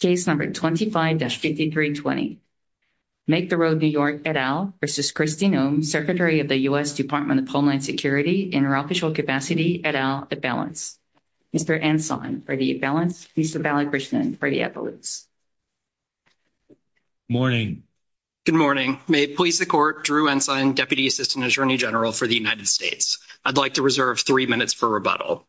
Case number 25-5320. Make The Road New York et al versus Kristi Noem, Secretary of the U.S. Department of Homeland Security, in her official capacity et al, at balance. Mr. Ensign, for the balance. Mr. Ballad-Britzman, for the appellate. Morning. Good morning. May it please the Court, Drew Ensign, Deputy Assistant Attorney General for the United States. I'd like to reserve three minutes for rebuttal.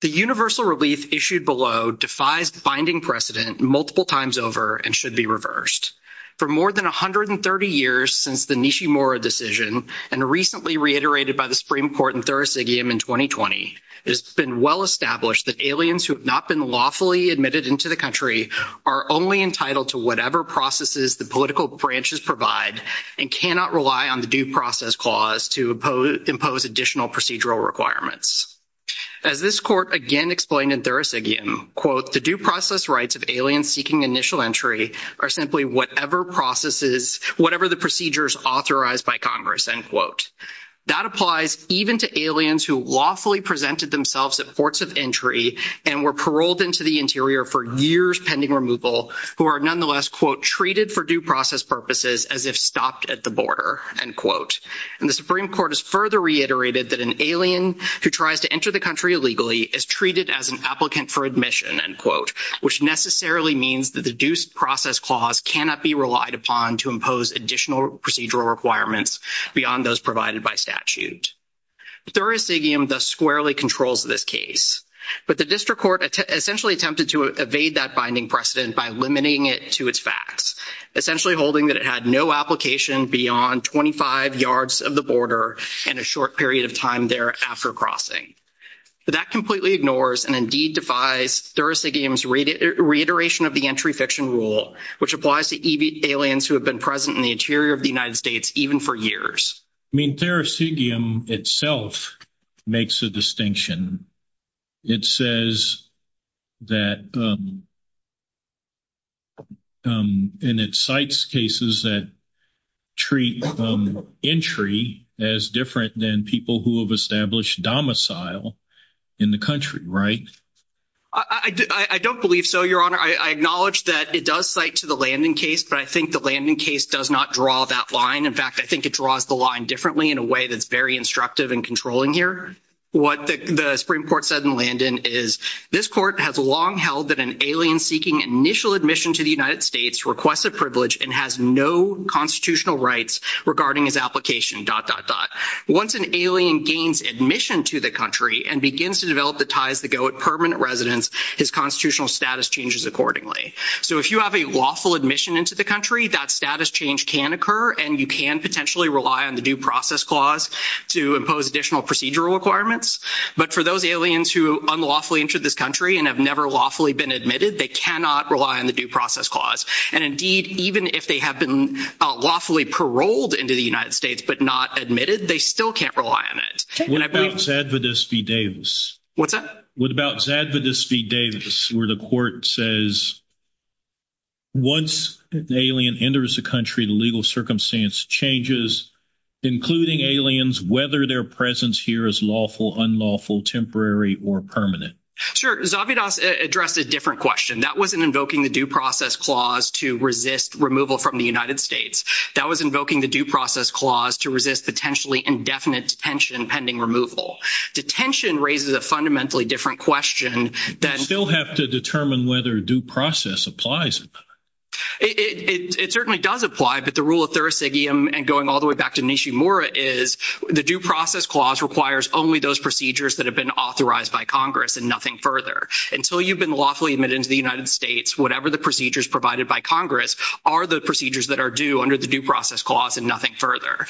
The universal relief issued below defies binding precedent multiple times over and should be reversed. For more than 130 years since the Nishimura decision and recently reiterated by the Supreme Court in Thursday in 2020, it's been well established that aliens who have not been lawfully admitted into the country are only entitled to whatever processes the political branches provide and cannot rely on the Due Process Clause to impose additional procedural requirements. As this Court again explained in Thursday, quote, the due process rights of aliens seeking initial entry are simply whatever processes, whatever the procedures authorized by Congress, end quote. That applies even to aliens who lawfully presented themselves at ports of entry and were paroled into the interior for years pending removal who are nonetheless, quote, treated for due process purposes as if stopped at the border, end quote. And the Supreme Court has further reiterated that an alien who tries to enter the country illegally is treated as an applicant for admission, end quote, which necessarily means that the Due Process Clause cannot be relied upon to impose additional procedural requirements beyond those provided by statute. The jurisdictions thus squarely controls this case. But the District Court essentially attempted to evade that binding precedent by limiting it to its facts, essentially holding that it had no application beyond 25 yards of the border and a short period of time there after crossing. But that completely ignores and indeed defies Thursigium's reiteration of the entry fiction rule, which applies to aliens who have been present in the interior of the United States even for years. I mean, Thursigium itself makes a distinction. It says that and it cites cases that treat entry as different than people who have established domicile in the country, right? I don't believe so, Your Honor. I acknowledge that it does cite to the Landon case, but I think the Landon case does not draw that line. In fact, I think it draws the line in a way that's very instructive and controlling here. What the Supreme Court said in Landon is, this court has long held that an alien seeking initial admission to the United States requests a privilege and has no constitutional rights regarding his application, dot, dot, dot. Once an alien gains admission to the country and begins to develop the ties that go with permanent residence, his constitutional status changes accordingly. So if you have a lawful admission into the country, that status change can occur and you can potentially rely on the due process clause to impose additional procedural requirements. But for those aliens who unlawfully entered this country and have never lawfully been admitted, they cannot rely on the due process clause. And indeed, even if they have been lawfully paroled into the United States, but not admitted, they still can't rely on it. What about Zadvidus v. Davis? What's that? What about Zadvidus v. Davis, where the court says, once an alien enters the country, the legal circumstance changes, including aliens, whether their presence here is lawful, unlawful, temporary, or permanent? Sure. Zadvidus addressed a different question. That wasn't invoking the due process clause to resist removal from the United States. That was invoking the due process clause to resist potentially indefinite detention pending removal. Detention raises a fundamentally different question than... You still have to determine whether due process applies. It certainly does apply. But the rule of thursigium and going all the way back to Nishimura is the due process clause requires only those procedures that have been authorized by Congress and nothing further. Until you've been lawfully admitted into the United States, whatever the procedures provided by Congress are the procedures that are due under the due process clause and nothing further.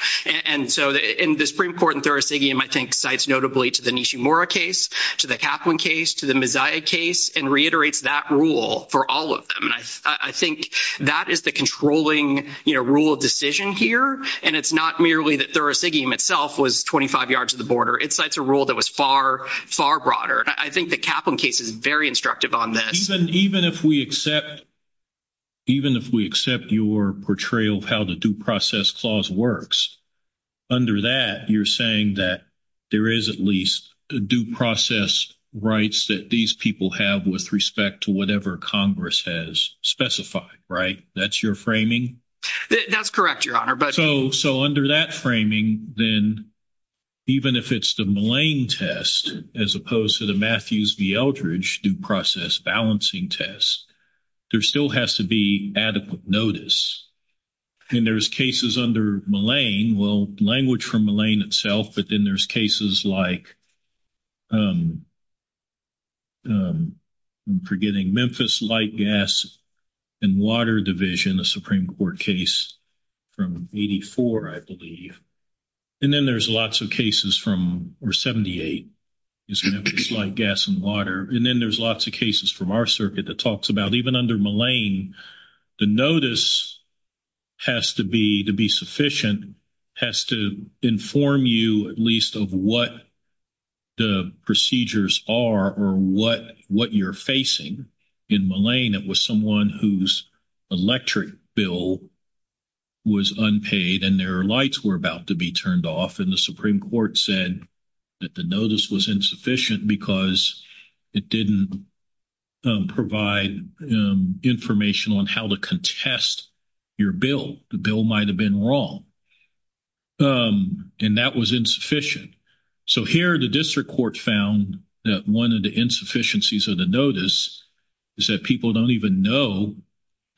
And so in the Supreme Court and thursigium, I think, cites notably to the Nishimura case, to the Kaplan case, to the Maziah case, and reiterates that rule for all of them. I think that is the controlling rule of decision here. And it's not merely that thursigium itself was 25 yards to the border. It's a rule that was far, far broader. I think the Kaplan case is very instructive on that. Even if we accept your portrayal of how the due process clause works, under that, you're saying that there is at least due process rights that these people have with to whatever Congress has specified, right? That's your framing? That's correct, Your Honor. So under that framing, then even if it's the Mullane test as opposed to the Matthews v. Eldridge due process balancing test, there still has to be adequate notice. And there's cases under Mullane, language from Mullane itself, but then there's cases like, I'm forgetting, Memphis Light, Gas, and Water Division, the Supreme Court case from 84, I believe. And then there's lots of cases from, or 78, is Memphis Light, Gas, and Water. And then there's lots of cases from our circuit that talks about even under Mullane, the notice has to be sufficient, has to inform you at least of what the procedures are or what you're facing. In Mullane, it was someone whose electric bill was unpaid and their lights were about to be turned off, and the Supreme Court said that the notice was insufficient because it didn't provide information on how to contest your bill. The bill might have been wrong. And that was insufficient. So here the district court found that one of the insufficiencies of the notice is that people don't even know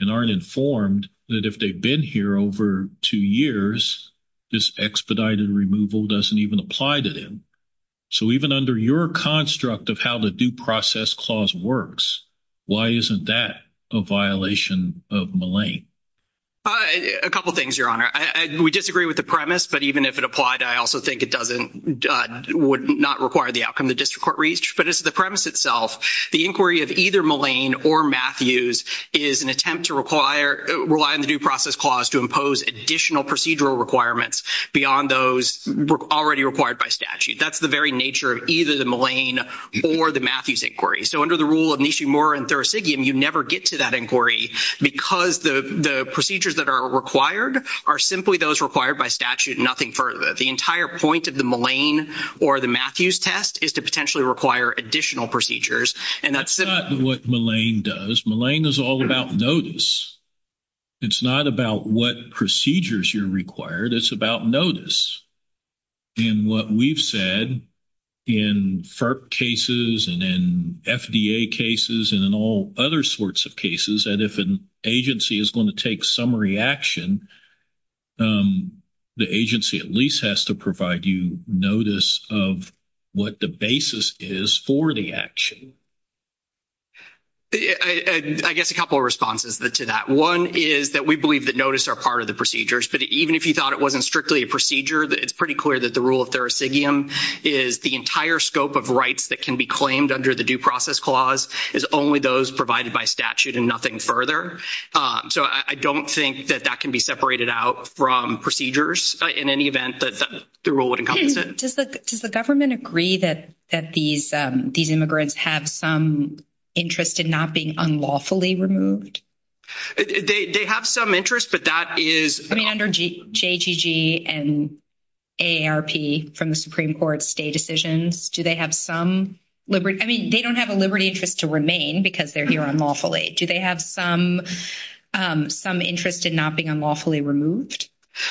and aren't informed that if they've been here over two years, this expedited removal doesn't even apply to them. So even under your construct of the due process clause works, why isn't that a violation of Mullane? A couple of things, Your Honor. We disagree with the premise, but even if it applied, I also think it would not require the outcome the district court reached. But it's the premise itself. The inquiry of either Mullane or Matthews is an attempt to rely on the due process clause to impose additional procedural requirements beyond those already required by statute. That's very nature of either the Mullane or the Matthews inquiry. So under the rule of Nishimura and Thursigian, you never get to that inquiry because the procedures that are required are simply those required by statute, nothing further. The entire point of the Mullane or the Matthews test is to potentially require additional procedures. And that's not what Mullane does. Mullane is all about notice. It's not about what procedures you're required. It's about notice. And what we've said in FERC cases and in FDA cases and in all other sorts of cases, that if an agency is going to take some reaction, the agency at least has to provide you notice of what the basis is for the action. I guess a couple of responses to that. One is that we believe that notice are part of the procedures. But even if you thought it wasn't strictly a procedure, it's pretty clear that the rule of Thursigian is the entire scope of rights that can be claimed under the due process clause is only those provided by statute and nothing further. So I don't think that that can be separated out from procedures in any event that the rule would encompass it. Does the government agree that these immigrants have some interest in not being unlawfully removed? They have some interest, but that is... I mean, under JGG and AARP from the Supreme Court state decisions, do they have some liberty? I mean, they don't have a liberty just to remain because they're here unlawfully. Do they have some interest in not being unlawfully removed?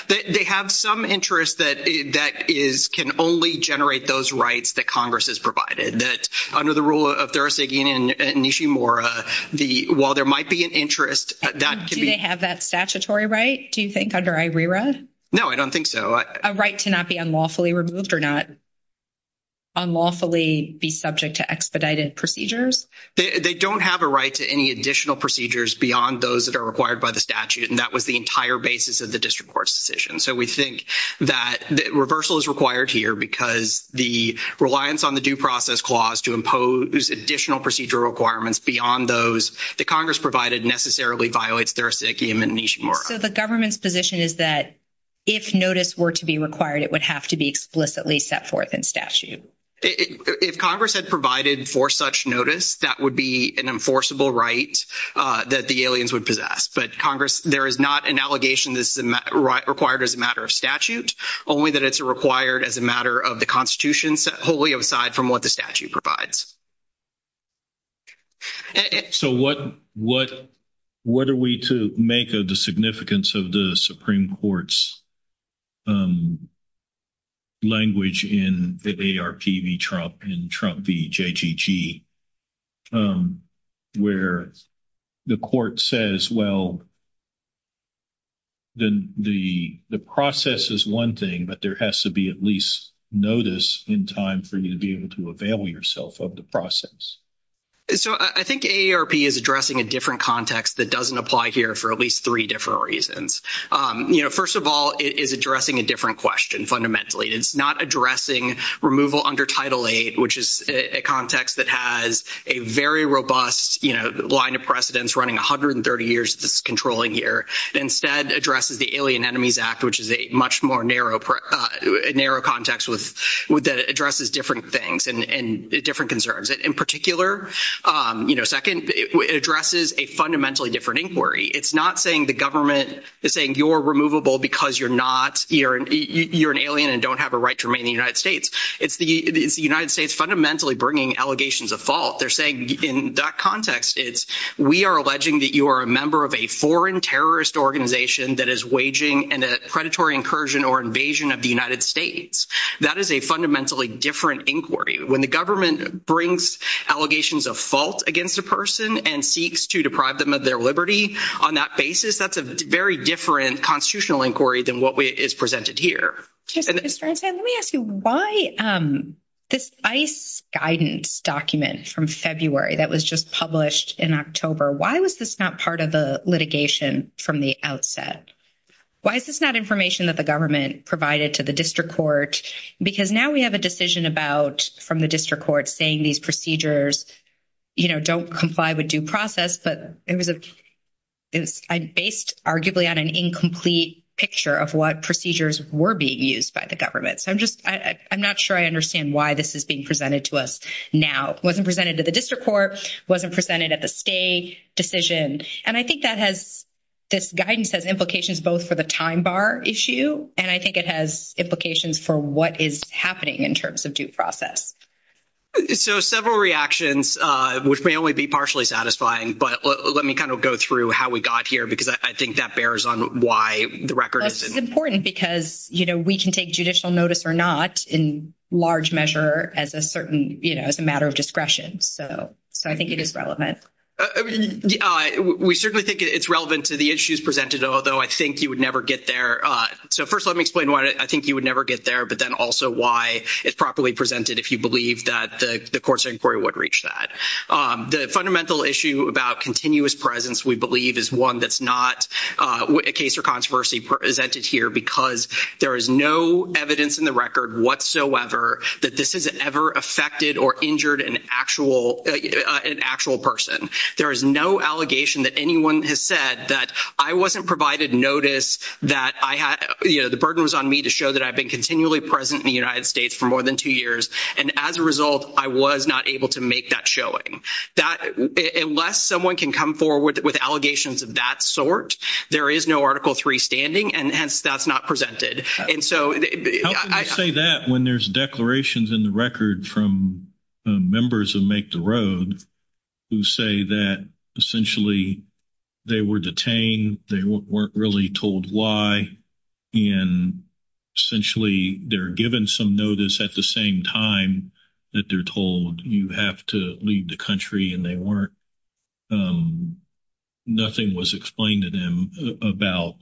They have some interest that can only generate those rights that Congress has provided, that under the rule of Thursigian and Nishimura, while there might be an interest... Do they have that statutory right, do you think, under IRERA? No, I don't think so. A right cannot be unlawfully removed or not unlawfully be subject to expedited procedures? They don't have a right to any additional procedures beyond those that are required by the statute, and that was the entire basis of the district court's decision. So we think that reversal is required here because the reliance on the due process clause to impose additional procedure requirements beyond those that Congress provided necessarily violates Thursigian and Nishimura. So the government's position is that if notice were to be required, it would have to be explicitly set forth in statute? If Congress had provided for such notice, that would be an enforceable right that the would possess. But Congress, there is not an allegation that's required as a matter of statute, only that it's required as a matter of the Constitution, wholly aside from what the statute provides. So what are we to make of the significance of the Supreme Court's language in AARP v. Trump and Trump v. JGG, where the court says, well, the process is one thing, but there has to be at least notice in time for you to be able to avail yourself of the process? So I think AARP is addressing a different context that doesn't apply here for at least different reasons. First of all, it is addressing a different question, fundamentally. It's not addressing removal under Title VIII, which is a context that has a very robust line of precedence running 130 years of its controlling here. Instead, it addresses the Alien Enemies Act, which is a much more narrow context that addresses different things and different concerns. In particular, second, it addresses a fundamentally different inquiry. It's not saying the government is saying you're removable because you're an alien and don't have a right to remain in the United States. It's the United States fundamentally bringing allegations of fault. They're saying in that context, it's we are alleging that you are a member of a foreign terrorist organization that is waging a predatory incursion or invasion of the United States. That is a fundamentally different inquiry. When the government brings allegations of fault against a person and seeks to deprive them of their liberty on that basis, that's a very different constitutional inquiry than what is presented here. Let me ask you, why this ICE guidance document from February that was just published in October, why was this not part of the litigation from the outset? Why is this not information that the government provided to the district court? Because now we have a decision from the district court saying these procedures don't comply with due process. But it was based arguably on an incomplete picture of what procedures were being used by the government. So I'm just, I'm not sure I understand why this is being presented to us now. Wasn't presented to the district court, wasn't presented at the state decision. And I think that has, this guidance has implications both for the time bar issue, and I think it has implications for what is happening in terms of due process. So several reactions, which may only be partially satisfying. But let me kind of go through how we got here, because I think that bears on why the record is. It's important because, you know, we can take judicial notice or not in large measure as a certain, you know, as a matter of discretion. So I think it is relevant. We certainly think it's relevant to the issues presented, although I think you would never get there. So first, let me explain why I think you would never get there. But then also why it's properly presented, if you believe that the court's inquiry would reach that. The fundamental issue about continuous presence, we believe, is one that's not a case of controversy presented here. Because there is no evidence in the record whatsoever that this has ever affected or injured an actual person. There is no allegation that anyone has said that I wasn't provided notice that I had, you know, the burden was on me to show that I've been continually present in the United States for more than two years. And as a result, I was not able to make that showing. That, unless someone can come forward with allegations of that sort, there is no Article III standing. And hence, that's not presented. And so I say that when there's declarations in the record from members of Make the Road who say that, essentially, they were detained. They weren't really told why. And, essentially, they're given some notice at the same time that they're told you have to leave the country and they weren't. Nothing was explained to them about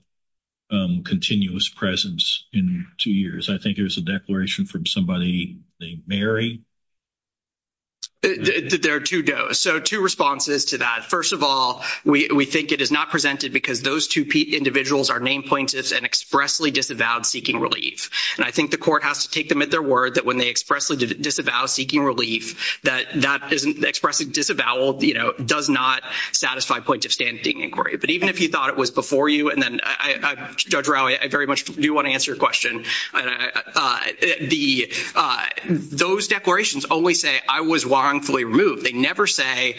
continuous presence in two years. I think it was a declaration from somebody, I think, Mary. There are two dos. So two responses to that. First of all, we think it is not presented because those two individuals are main plaintiffs and expressly disavowed seeking relief. And I think the court has to take them at their word that when they expressly disavow seeking relief, that expressing disavowal, you know, does not satisfy plaintiff's standing inquiry. But even if you thought it was before you, and then, Judge Rowe, I very much do want to answer your question. Those declarations always say I was wrongfully removed. They never say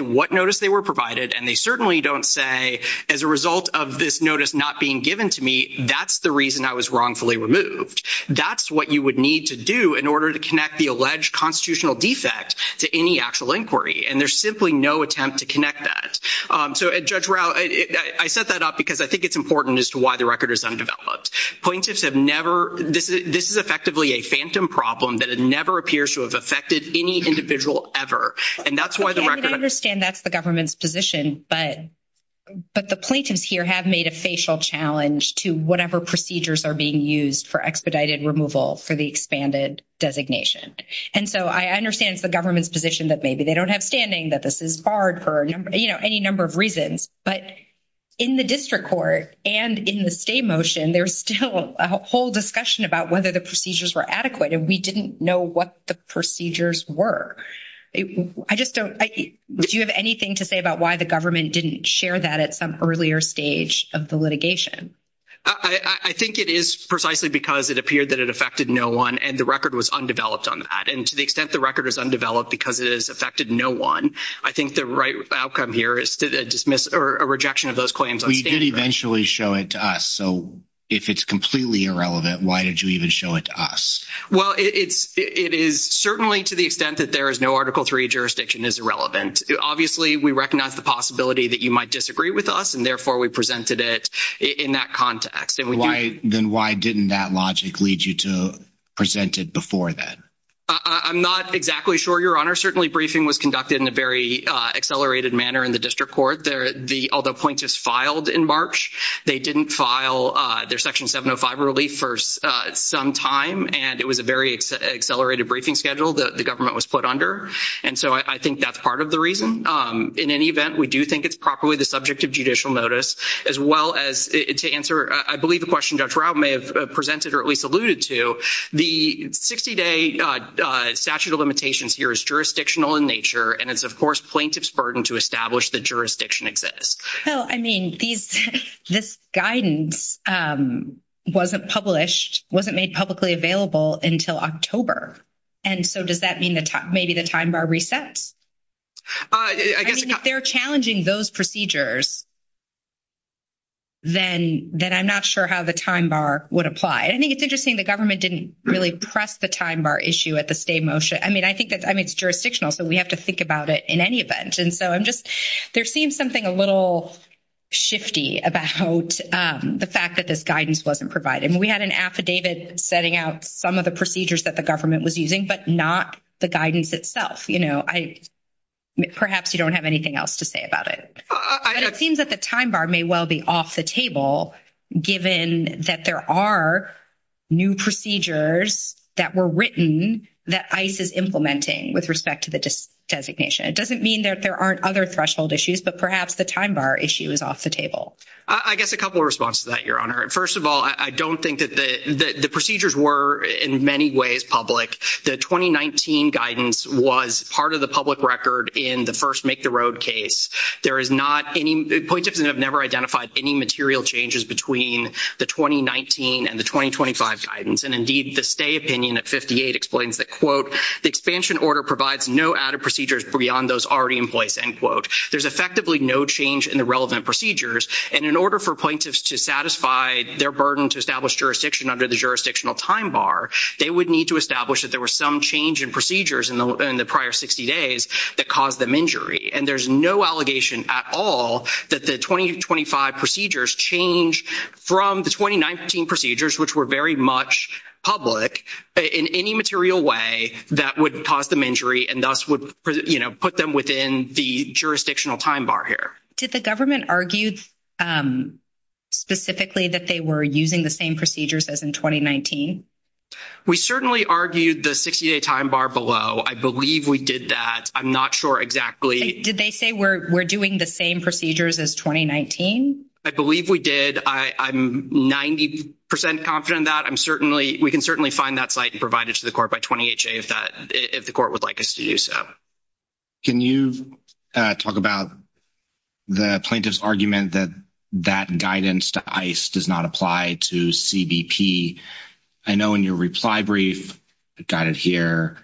what notice they were provided. And they certainly don't say, as a result of this notice not being given to me, that's the reason I was wrongfully removed. That's what you would need to do in order to connect the alleged constitutional defect to any actual inquiry. And there's simply no attempt to connect that. So, Judge Rowe, I set that up because I think it's important as to why the record is undeveloped. Plaintiffs have never, this is effectively a phantom problem that it never appears to have affected any individual ever. And that's why the record... I understand that's the government's position, but the plaintiffs here have made a facial challenge to whatever procedures are being used for expedited removal for the expanded designation. And so, I understand it's the government's position that maybe they don't have standing, that this is hard for, you know, any number of reasons. But in the district court and in the stay motion, there's still a whole discussion about whether the procedures were adequate. And we didn't know what the procedures were. I just don't... Do you have anything to say about why the government didn't share that at some earlier stage of the litigation? I think it is precisely because it appeared that it affected no one and the record was undeveloped on that. And to the extent the record is undeveloped because it has affected no one, I think the right outcome here is to dismiss or a rejection of those claims. We did eventually show it to us. So, if it's completely irrelevant, why did you even show it to us? Well, it is certainly to the extent that there is no Article III jurisdiction is irrelevant. Obviously, we recognize the possibility that you might disagree with us. And therefore, we presented it in that context. Then why didn't that logic lead you to present it before then? I'm not exactly sure, Your Honor. Certainly, briefing was conducted in a very accelerated manner in the district court. Although plaintiffs filed in March, they didn't file their Section 705 relief for some time. And it was a very accelerated briefing schedule that the government was put under. And so, I think that's part of the reason. In any event, we do think it's properly the subject of judicial notice, as well as to answer, I believe, the question Judge Routt may have presented or at least alluded to. The 60-day statute of limitations here is jurisdictional in nature. And it's, of course, plaintiff's burden to establish the jurisdiction exists. So, I mean, this guidance wasn't published, wasn't made publicly available until October. And so, does that mean that maybe the time bar resets? I mean, if they're challenging those procedures, then I'm not sure how the time bar would apply. I think it's interesting the government didn't really press the time bar issue at the state motion. I mean, I think that's, I mean, it's jurisdictional, so we have to think about it in any event. And so, I'm just, there seems something a little shifty about the fact that this guidance wasn't provided. We had an affidavit setting out some of the procedures that the government was using, but not the guidance itself. You know, I, perhaps you don't have anything else to say about it. And it seems that the time bar may well be off the table, given that there are new procedures that were written that ICE is implementing with respect to the designation. It doesn't mean that there aren't other threshold issues, but perhaps the time bar issue is off the table. I guess a couple of responses to that, Your Honor. First of all, I don't think that the procedures were, in many ways, public. The 2019 guidance was part of the public record in the first Make the Road case. There is not any, points have never identified any material changes between the 2019 and the 2025 guidance. And indeed, the stay opinion at 58 explains that, quote, the expansion order provides no added procedures beyond those already in place, end quote. There's effectively no change in the relevant procedures. And in order for plaintiffs to satisfy their burden to establish jurisdiction under the jurisdictional time bar, they would need to establish that there was some change in procedures in the prior 60 days that caused them injury. And there's no allegation at all that the 2025 procedures change from the 2019 procedures, which were very much public, in any material way that would cause them injury, and thus would, you know, put them within the jurisdictional time bar here. Did the government argue specifically that they were using the same procedures as in 2019? We certainly argued the 60-day time bar below. I believe we did that. I'm not sure exactly. Did they say we're doing the same procedures as 2019? I believe we did. I'm 90 percent confident of that. I'm certainly, we can certainly find that site and provide it to the court by 20HA if that, if the court would like us to do so. Can you talk about the plaintiff's argument that that guidance to ICE does not apply to CBP? I know in your reply brief, got it here,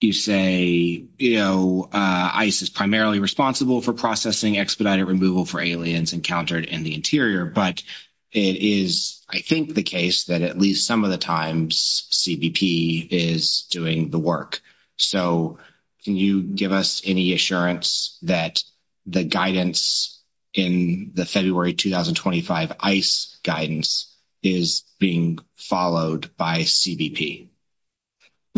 you say, you know, ICE is primarily responsible for processing expedited removal for aliens encountered in the interior. But it is, I think, the case that at least some of the times CBP is doing the work. So can you give us any assurance that the guidance in the February 2025 ICE guidance is being followed by CBP?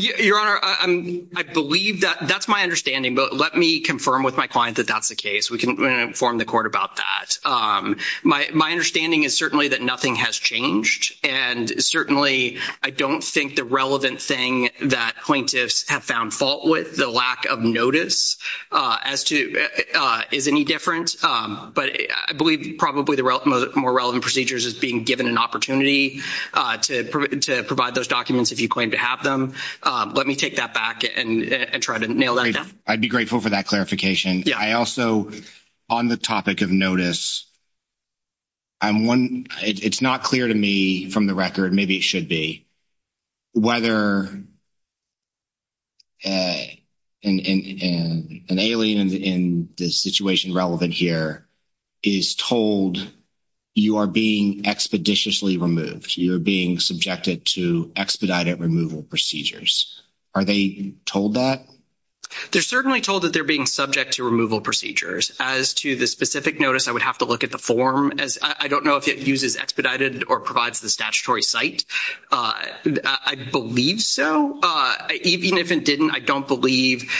Your Honor, I believe that, that's my understanding. But let me confirm with my client that that's the case. We can inform the court about that. My understanding is certainly that nothing has changed. And certainly, I don't think the relevant thing that plaintiffs have found fault with, the lack of notice, as to, is any different. But I believe probably the more relevant procedures is being given an opportunity to provide those documents if you claim to have them. Let me take that back and try to nail that down. I'd be grateful for that clarification. I also, on the topic of notice, I'm one, it's not clear to me from the record, maybe it should be, whether an alien in the situation relevant here is told you are being expeditiously removed, you're being subjected to expedited removal procedures. Are they told that? They're certainly told that they're being subject to removal procedures. As to the specific notice, I would have to look at the form. I don't know if it uses expedited or provides the statutory site. I believe so. Even if it didn't, I don't believe,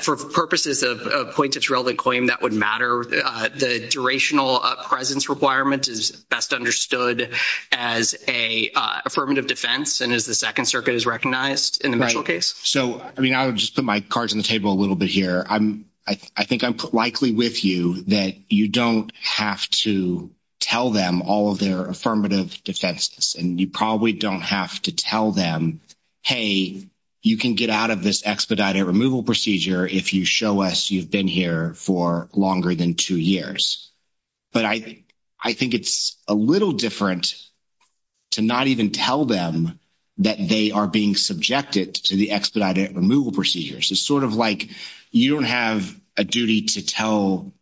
for purposes of a plaintiff's relevant claim, that would matter. The durational presence requirement is best understood as an affirmative defense, and as the Second Circuit has recognized in the medical case. So, I mean, I would just put my cards on the table a little bit here. I think I'm likely with you that you don't have to tell them all of their affirmative defenses. You probably don't have to tell them, hey, you can get out of this expedited removal procedure if you show us you've been here for longer than two years. But I think it's a little different to not even tell them that they are being subjected to the expedited removal procedures. It's sort of like you don't have a duty to tell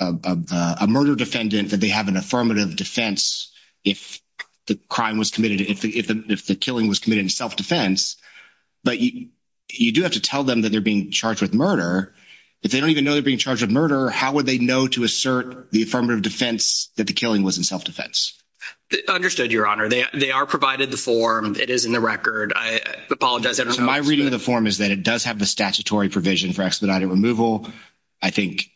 a murder defendant that they have an affirmative defense if the crime was committed, if the killing was committed in self-defense. But you do have to tell them that they're being charged with murder. If they don't even know they're being charged with murder, how would they know to assert the affirmative defense that the killing was in self-defense? Understood, Your Honor. They are provided the form. It is in the record. I apologize. My reading of the form is that it does have the statutory provision for expedited removal. I think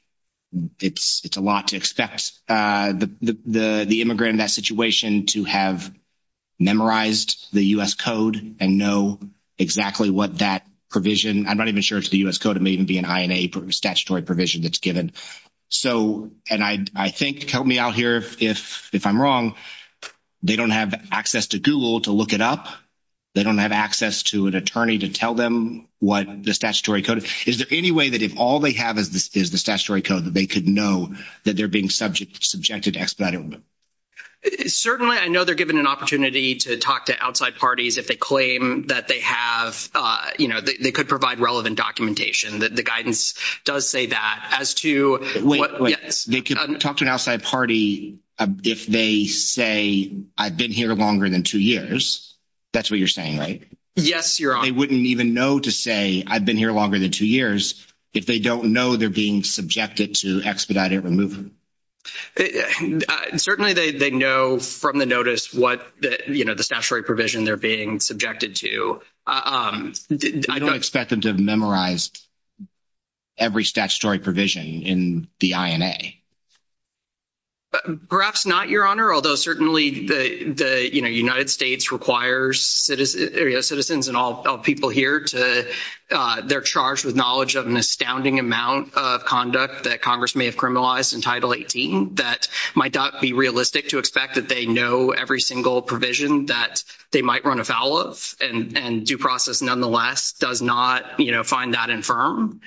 it's a lot to expect the immigrant in that situation to have memorized the U.S. Code and know exactly what that provision. I'm not even sure it's the U.S. Code. It may even be an INA statutory provision that's given. So, and I think, help me out here if I'm wrong, they don't have access to Google to look it up. They don't have access to an attorney to tell them what the statutory code. Is there any way that if all they have is the statutory code that they could know that they're being subjected to expedited removal? Certainly, I know they're given an opportunity to talk to outside parties if they claim that they have, you know, they could provide relevant documentation. The guidance does say that. As to what, yes. They could talk to an outside party if they say, I've been here longer than two years. That's what you're saying, right? Yes, Your Honor. They wouldn't even know to say, I've been here longer than two years, if they don't know they're being subjected to expedited removal. Certainly, they know from the notice what, you know, the statutory provision they're being subjected to. I don't expect them to have memorized every statutory provision in the INA. Perhaps not, Your Honor. Certainly, the United States requires citizens and all people here to, they're charged with knowledge of an astounding amount of conduct that Congress may have criminalized in Title 18 that might not be realistic to expect that they know every single provision that they might run afoul of and due process nonetheless does not, you know, find that infirm.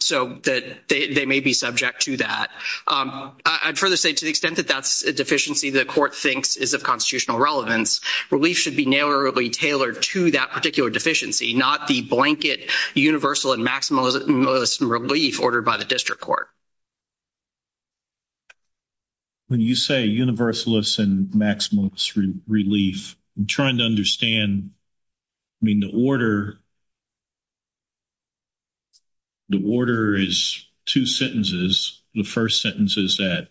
So, they may be subject to that. I try to say, to the extent that that's a deficiency, the court thinks is of constitutional relevance. Relief should be narrowly tailored to that particular deficiency, not the blanket universal and maximalist relief ordered by the district court. When you say universalist and maximalist relief, I'm trying to understand, I mean, the order, the order is two sentences. The first sentence is that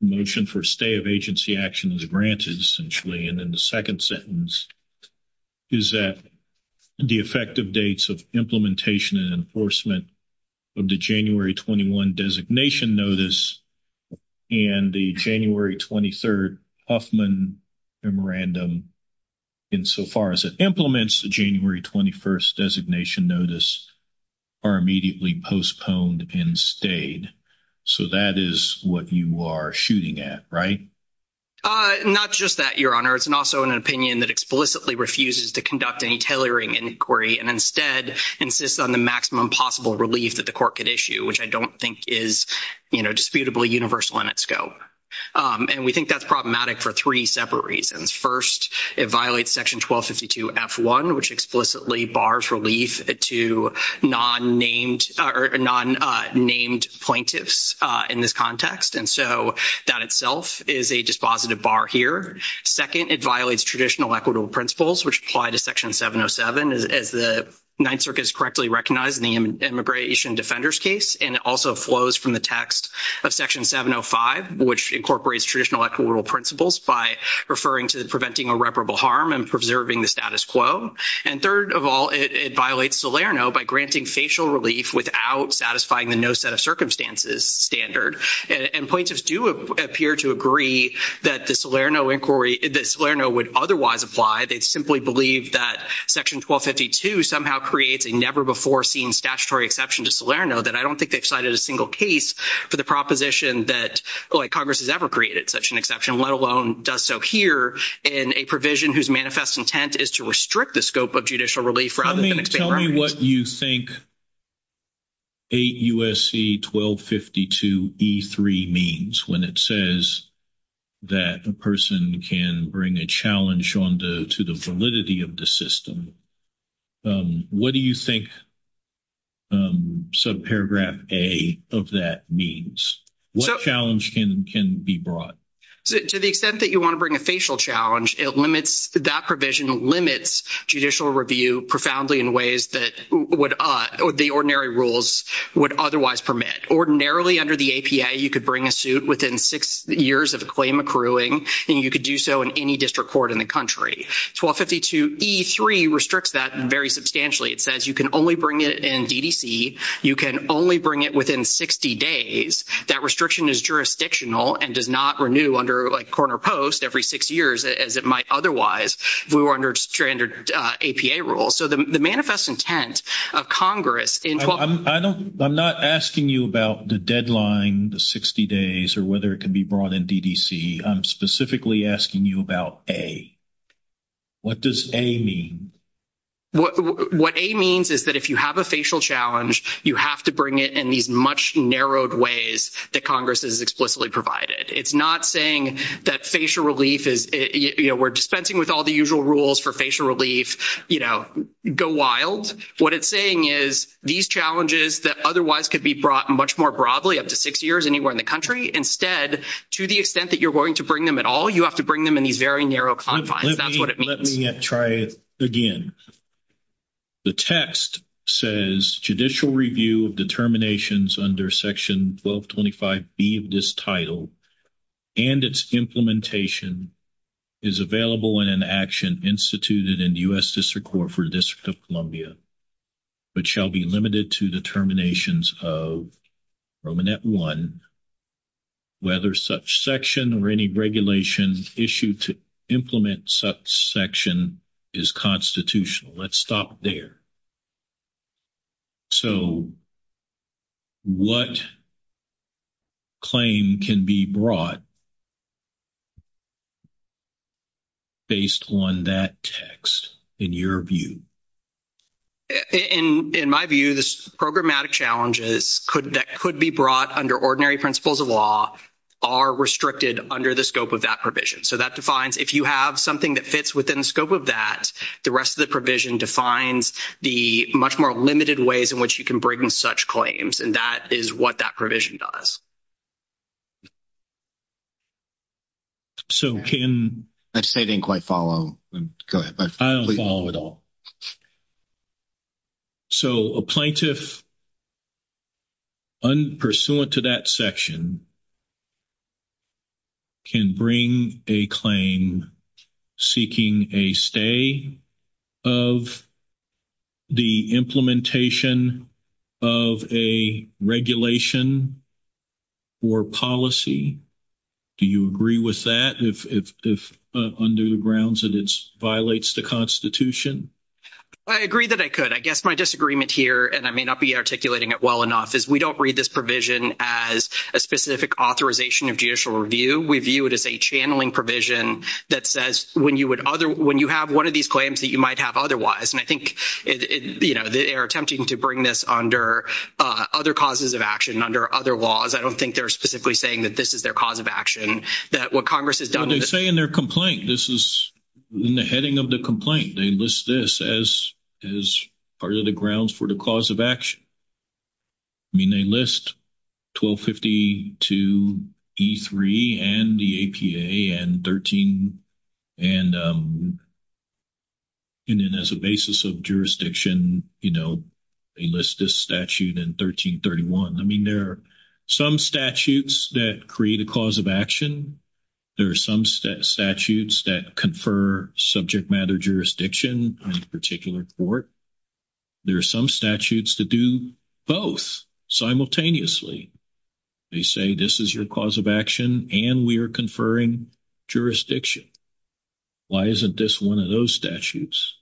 motion for a stay of agency action is granted, essentially, and then the second sentence is that the effective dates of implementation and enforcement of the January 21 designation notice and the January 23rd Huffman memorandum, insofar as it implements the January 21st designation notice, are immediately postponed and stayed. So, that is what you are shooting at, right? Not just that, Your Honor. It's also an opinion that explicitly refuses to conduct any tailoring inquiry and instead insists on the maximum possible relief that the court could issue, which I don't think is, you know, disputably universal in its scope. And we think that's problematic for three separate reasons. First, it violates Section 1252F1, which explicitly bars relief to non-named plaintiffs in this context. And so, that itself is a dispositive bar here. Second, it violates traditional equitable principles, which apply to Section 707, as the Ninth Circuit has correctly recognized in the Immigration Defenders case. And it also flows from the text of Section 705, which incorporates traditional equitable principles by referring to preventing irreparable harm and preserving the status quo. And third of all, it violates Salerno by granting facial relief without satisfying the no set of circumstances standard. And plaintiffs do appear to agree that the Salerno inquiry, that Salerno would otherwise apply. They simply believe that Section 1252 somehow creates a never-before-seen statutory exception to Salerno that I don't think they've cited a single case for the proposition that, like, Congress has ever created such an exception, let alone does so here in a provision whose manifest intent is to restrict the scope of judicial relief rather than extend relief. I mean, tell me what you think 8 U.S.C. 1252E3 means when it says that a person can bring a challenge to the validity of the system. What do you think subparagraph A of that means? What challenge can be brought? So to the extent that you want to bring a facial challenge, that provision limits judicial review profoundly in ways that the ordinary rules would otherwise permit. Ordinarily under the APA, you could bring a suit within six years of a claim accruing, and you could do so in any district court in the country. 1252E3 restricts that very substantially. It says you can only bring it in DDC. You can only bring it within 60 days. That restriction is jurisdictional and does not renew under, like, corner post every six years as it might otherwise. We were under standard APA rules. So the manifest intent of Congress in 1252E3. I'm not asking you about the deadline, the 60 days, or whether it can be brought in DDC. I'm specifically asking you about A. What does A mean? What A means is that if you have a facial challenge, you have to bring it in these much narrowed ways that Congress has explicitly provided. It's not saying that facial relief is, you know, we're dispensing with all the usual rules for facial relief, you know, go wild. What it's saying is these challenges that otherwise could be brought much more broadly up to six years anywhere in the country, instead, to the extent that you're going to bring them at all, you have to bring them in these very narrow confines. Let me try again. The text says judicial review of determinations under Section 1225B of this title and its implementation is available in an action instituted in U.S. District Court for the District of Columbia, but shall be limited to determinations of permanent one, whether such section or regulation issued to implement such section is constitutional. Let's stop there. So, what claim can be brought based on that text, in your view? In my view, the programmatic challenges that could be brought under ordinary principles of law are restricted under the scope of that provision. So, that defines, if you have something that fits within the scope of that, the rest of the provision defines the much more limited ways in which you can bring in such claims, and that is what that provision does. So, can... That state didn't quite follow. Go ahead. I don't follow at all. So, a plaintiff, pursuant to that section, can bring a claim seeking a stay of the implementation of a regulation or policy. Do you agree with that, if under the grounds that it violates the Constitution? I agree that I could. I guess my disagreement here, and I may not be articulating it well enough, is we don't read this provision as a specific authorization of judicial review. We view it as a channeling provision that says when you have one of these claims that you might have otherwise, and I think, you know, they are attempting to bring this under other causes of action, under other laws. I don't think they are specifically saying that this is their cause of action, that what Congress has done... They say in their complaint. This is in the heading of the complaint. They list this as part of the grounds for the cause of action. I mean, they list 1252E3 and the APA, and 13, and then as a basis of jurisdiction, you know, they list this statute in 1331. I mean, there are some statutes that create a cause of action. There are some statutes that confer subject matter jurisdiction on a particular court. There are some statutes that do both simultaneously. They say this is your cause of action, and we are conferring jurisdiction. Why isn't this one of those statutes?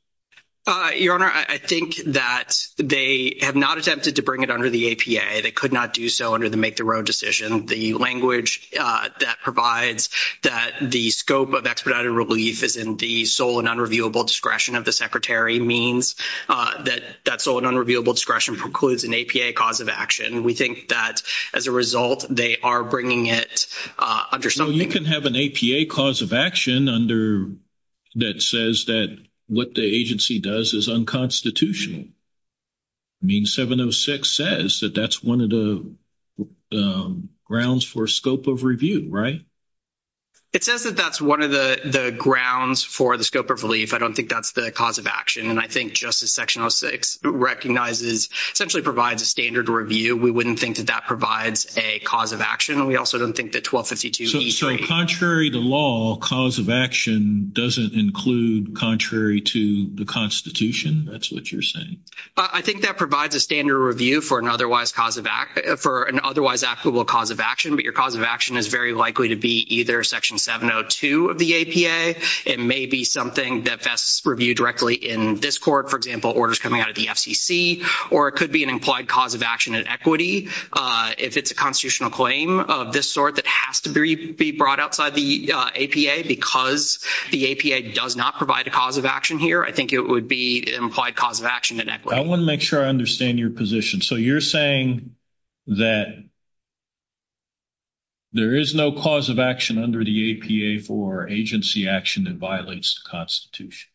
Your Honor, I think that they have not attempted to bring it under the APA. They could not do so under the make-the-road decision. The language that provides that the scope of expedited relief is in the sole and unreviewable discretion of the Secretary means that that sole and unreviewable discretion precludes an APA cause of action. We think that, as a result, they are bringing it under... So you can have an APA cause of action under... that says that what the agency does is unconstitutional. I mean, 706 says that that's one of the grounds for scope of review, right? It says that that's one of the grounds for the scope of relief. I don't think that's the cause of action. And I think Justice Section 06 recognizes, essentially provides a standard review. We wouldn't think that that provides a cause of action. And we also don't think that 1252... So contrary to law, cause of action doesn't include contrary to the Constitution? That's what you're saying? But I think that provides a standard review for an otherwise cause of... for an otherwise applicable cause of action. But your cause of action is very likely to be either Section 702 of the APA. It may be something that best review directly in this court, for example, orders coming out of the FCC. Or it could be an implied cause of action at equity. If it's a constitutional claim of this sort that has to be brought outside the APA because the APA does not provide a cause of action here, I think it would be implied cause of action at equity. I want to make sure I understand your position. So you're saying that there is no cause of action under the APA for agency action that violates the Constitution?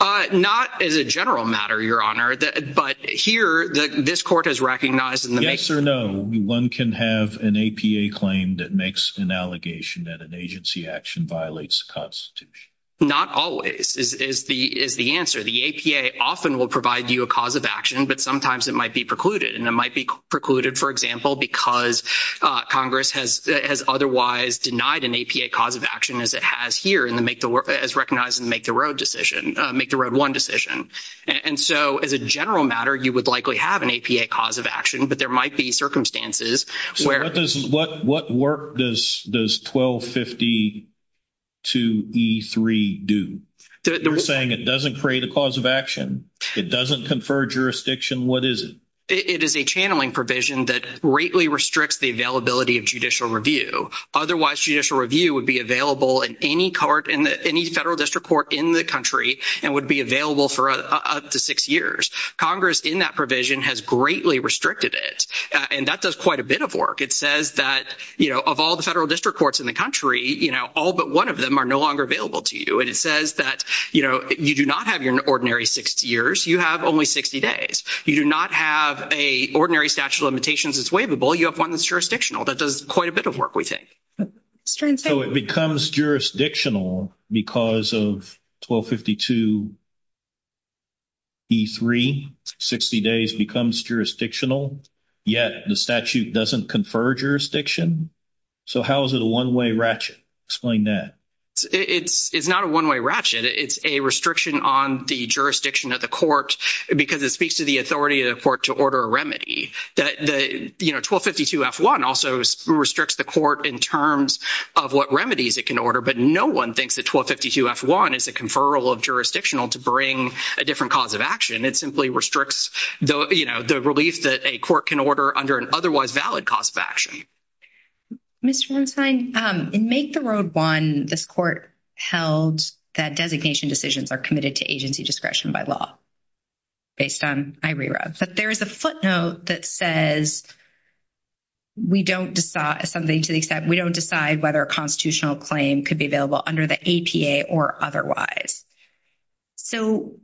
Not in a general matter, Your Honor. But here, this court has recognized in the... Yes or no, one can have an APA claim that makes an allegation that an agency action violates the Constitution? Not always. Is the answer. The APA often will provide you a cause of action, but sometimes it might be precluded. And it might be precluded, for example, because Congress has otherwise denied an APA cause of action as it has here in the make the... as recognized in the make the road decision, make the road one decision. And so as a general matter, you would likely have an APA cause of action, but there might be circumstances where... What does... What work does 1252E3 do? You're saying it doesn't create a cause of action. It doesn't confer jurisdiction. What is it? It is a channeling provision that greatly restricts the availability of judicial review. Otherwise, judicial review would be available in any court, in any federal district court in the country and would be available for up to six years. Congress in that provision has greatly restricted it. And that does quite a bit of work. It says that, you know, of all the federal district courts in the country, you know, all but one of them are no longer available to you. It says that, you know, you do not have your ordinary 60 years. You have only 60 days. You do not have a ordinary statute of limitations that's waivable. You have one that's jurisdictional. That does quite a bit of work, we think. So it becomes jurisdictional because of 1252E3, 60 days becomes jurisdictional, yet the statute doesn't confer jurisdiction. So how is it a one-way ratchet? Explain that. It's not a one-way ratchet. It's a restriction on the jurisdiction of the court because it speaks to the authority of the court to order a remedy. That, you know, 1252F1 also restricts the court in terms of what remedies it can order, but no one thinks that 1252F1 is a conferral of jurisdictional to bring a different cause of action. It simply restricts, you know, the relief that a court can order under an otherwise valid cause of action. Ms. Jensenstein, in Make the Road One, this court held that designation decisions are committed to agency discretion by law, based on my re-reads. But there is a footnote that says we don't decide something to the extent, we don't decide whether a constitutional claim could be available under the APA or otherwise. So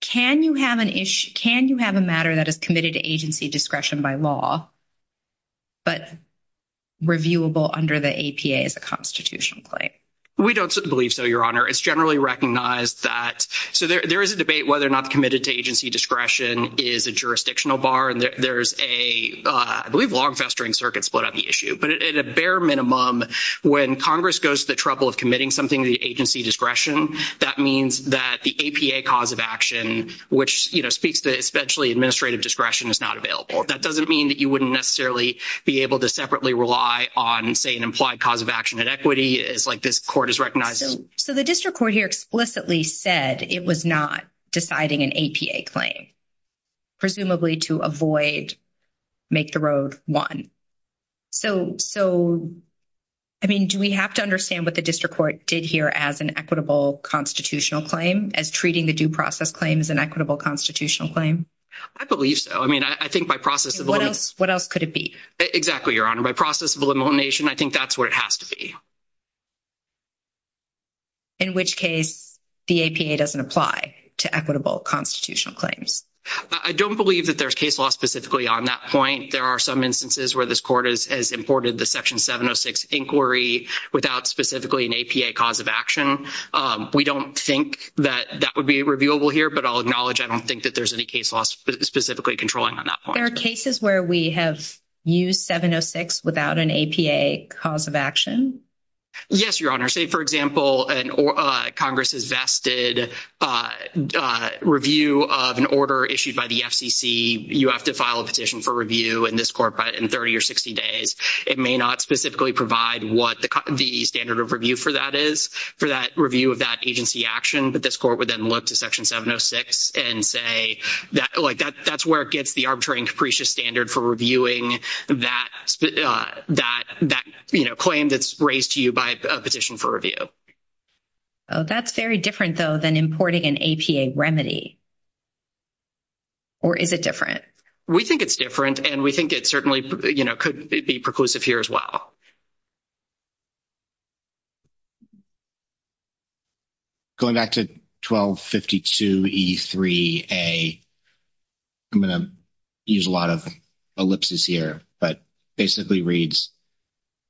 can you have an issue, can you have a matter that is committed to agency discretion by law, but reviewable under the APA as a constitutional claim? We don't believe so, Your Honor. It's generally recognized that, so there is a debate whether or not committed to agency discretion is a jurisdictional bar. And there's a, I believe, long festering circuit split on the issue. But at a bare minimum, when Congress goes to the trouble of committing something to the agency discretion, that means that the APA cause of action, which, you know, speaks to essentially administrative discretion, is not available. That doesn't mean that you wouldn't necessarily be able to separately rely on, say, an implied cause of action at equity, as, like, this court has recognized. So the district court here explicitly said it was not deciding an APA claim, presumably to avoid Make the Road One. So, I mean, do we have to understand what the district court did here as an equitable constitutional claim, as treating the due process claim as an equitable constitutional claim? I believe so. I mean, I think by process of elimination... What else could it be? Exactly, Your Honor. By process of elimination, I think that's what it has to be. In which case, the APA doesn't apply to equitable constitutional claims. I don't believe that there's case law specifically on that point. There are some instances where this court has imported the Section 706 inquiry without specifically an APA cause of action. We don't think that that would be reviewable here, but I'll acknowledge I don't think that there's any case law specifically controlling on that point. There are cases where we have used 706 without an APA cause of action? Yes, Your Honor. Say, for example, Congress has vested review of an order issued by the FCC. You have to file a petition for review in this court in 30 or 60 days. It may not specifically provide what the standard of review for that is, for that review of that agency action. This court would then look to Section 706 and say, like, that's where it gets the arbitrary and capricious standard for reviewing that, you know, claim that's raised to you by a petition for review. That's very different, though, than importing an APA remedy, or is it different? We think it's different, and we think it certainly, you know, could be preclusive here as well. Going back to 1252E3A, I'm going to use a lot of ellipses here, but basically reads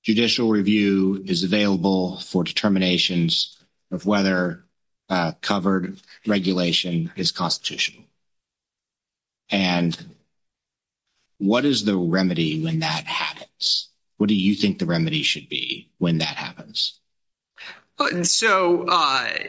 judicial review is available for determinations of whether covered regulation is constitutional. And what is the remedy when that happens? What do you think the remedy should be when that happens? So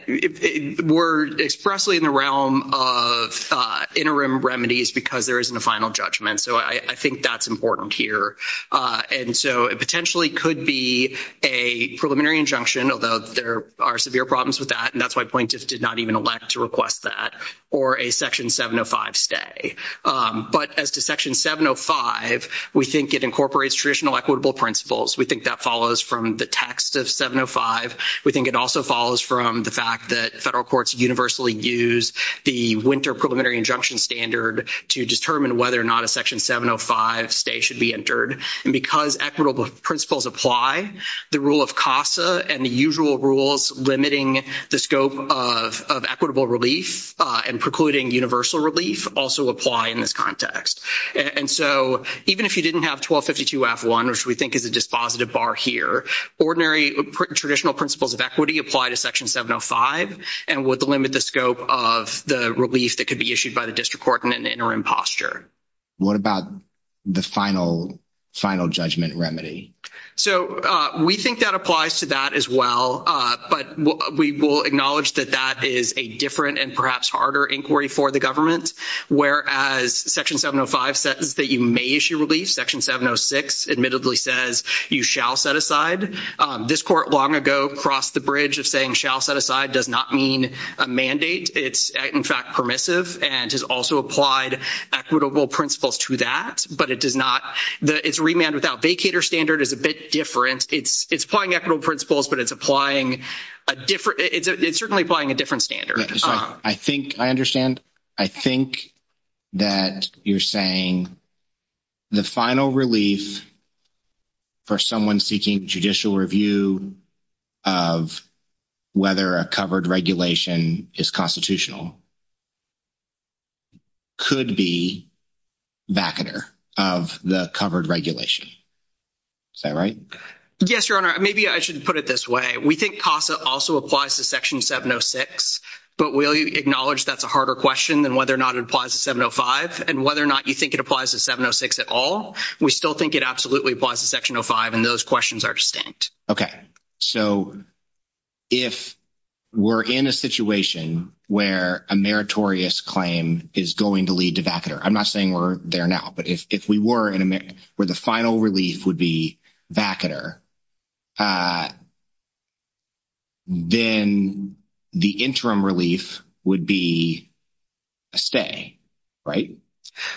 we're expressly in the realm of interim remedies because there isn't a final judgment. So I think that's important here. And so it potentially could be a preliminary injunction, although there are severe problems with that, and that's why plaintiffs did not even elect to request that, or a Section 705 stay. But as to Section 705, we think it incorporates traditional equitable principles. We think that follows from the text of 705. We think it also follows from the fact that federal courts universally use the winter preliminary injunction standard to determine whether or not a Section 705 stay should be entered. And because equitable principles apply, the rule of CASA and the usual rules limiting the scope of equitable relief and precluding universal relief also apply in this context. And so even if you didn't have 1252-F1, which we think is a dispositive bar here, ordinary traditional principles of equity apply to Section 705 and would limit the scope of the relief that could be issued by the district court and then the interim posture. What about the final judgment remedy? So we think that applies to that as well, but we will acknowledge that that is a different and perhaps harder inquiry for the government, whereas Section 705 says that you may issue relief. Section 706 admittedly says you shall set aside. This court long ago crossed the bridge of saying shall set aside does not mean a mandate. It's, in fact, permissive and has also applied equitable principles to that, but it does not. The it's remand without vacator standard is a bit different. It's applying equitable principles, but it's applying a different it's certainly applying a different standard. I think I understand. I think that you're saying the final relief for someone seeking judicial review of whether a covered regulation is constitutional. Could be back of the covered regulation. Is that right? Yes, Your Honor. Maybe I should put it this way. We think PASA also applies to Section 706, but we'll acknowledge that's a harder question than whether or not it applies to 705 and whether or not you think it applies to 706 at all. We still think it absolutely applies to Section 05, and those questions are distinct. Okay, so if we're in a situation where a meritorious claim is going to lead to back there, I'm not saying we're there now, but if we were in America where the final relief would be back at her. Then the interim relief would be a stay, right?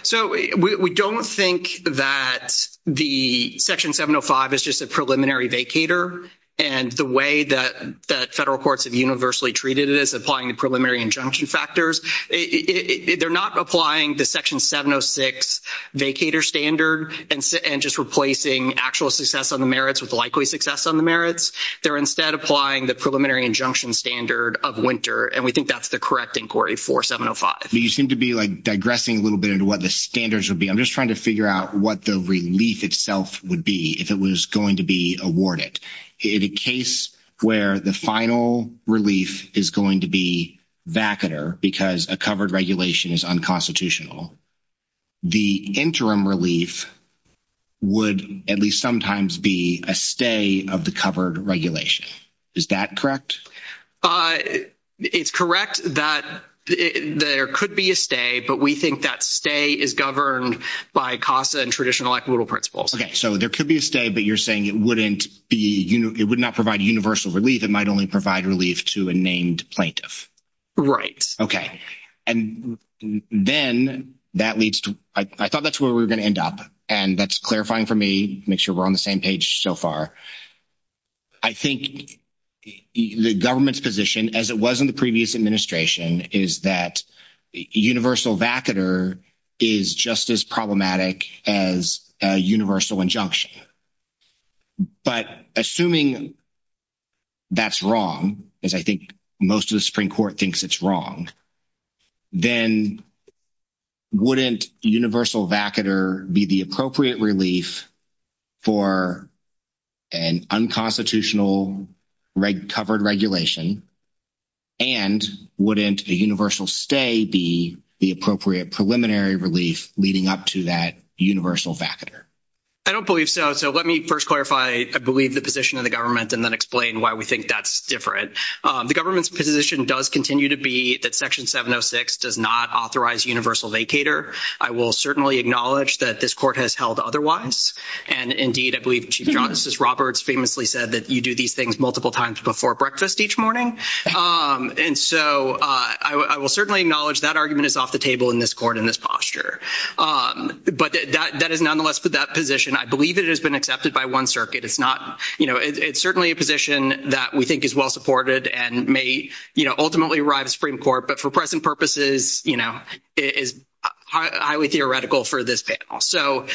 So we don't think that the Section 705 is just a preliminary vacator and the way that federal courts have universally treated it is applying the preliminary injunction factors. They're not applying the Section 706 vacator standard and just replacing actual success on the merits with likely success on the merits. They're instead applying the preliminary injunction standard of winter, and we think that's the correct inquiry for 705. You seem to be, like, digressing a little bit into what the standards would be. I'm just trying to figure out what the relief itself would be if it was going to be awarded. In a case where the final relief is going to be back at her because a covered regulation is unconstitutional, the interim relief would at least sometimes be a stay of the covered regulation. Is that correct? Uh, it's correct that there could be a stay, but we think that stay is governed by CASA and traditional equitable principles. Okay, so there could be a stay, but you're saying it wouldn't be, you know, it would not provide universal relief. It might only provide relief to a named plaintiff. Right. Okay, and then that leads to, I thought that's where we were going to end up, and that's clarifying for me, make sure we're on the same page so far. I think the government's position, as it was in the previous administration, is that universal vacater is just as problematic as a universal injunction, but assuming that's wrong, as I think most of the Supreme Court thinks it's wrong, then wouldn't universal vacater be appropriate relief for an unconstitutional covered regulation, and wouldn't a universal stay be the appropriate preliminary relief leading up to that universal vacater? I don't believe so. So, let me first clarify, I believe, the position of the government and then explain why we think that's different. The government's position does continue to be that Section 706 does not authorize universal vacater. I will certainly acknowledge that this Court has held otherwise. And, indeed, I believe Chief Justice Roberts famously said that you do these things multiple times before breakfast each morning. And so, I will certainly acknowledge that argument is off the table in this Court in this posture. But that is nonetheless that position. I believe it has been accepted by one circuit. It's not, you know, it's certainly a position that we think is well-supported and may, you know, for present purposes, you know, is highly theoretical for this panel. So,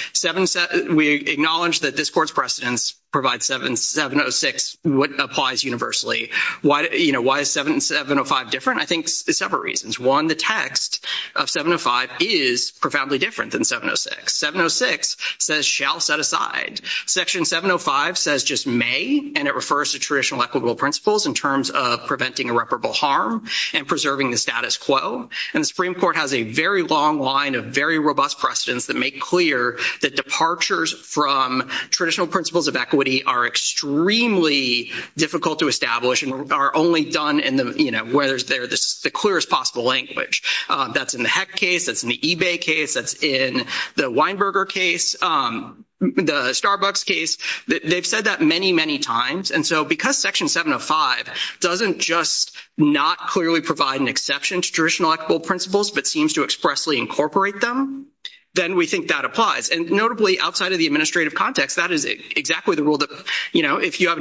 we acknowledge that this Court's precedence provides 706, what applies universally. Why, you know, why is 705 different? I think there's several reasons. One, the text of 705 is profoundly different than 706. 706 says, shall set aside. Section 705 says, just may, and it refers to traditional equitable principles in terms of preventing irreparable harm and preserving the status quo. And the Supreme Court has a very long line of very robust precedence that make clear that departures from traditional principles of equity are extremely difficult to establish and are only done in the, you know, where there's the clearest possible language. That's in the Heck case. That's in the eBay case. That's in the Weinberger case, the Starbucks case. They've said that many, many times. And so, because Section 705 doesn't just not clearly provide an exception to traditional equitable principles, but seems to expressly incorporate them, then we think that applies. And notably, outside of the administrative context, that is exactly the rule that, you know, if you have...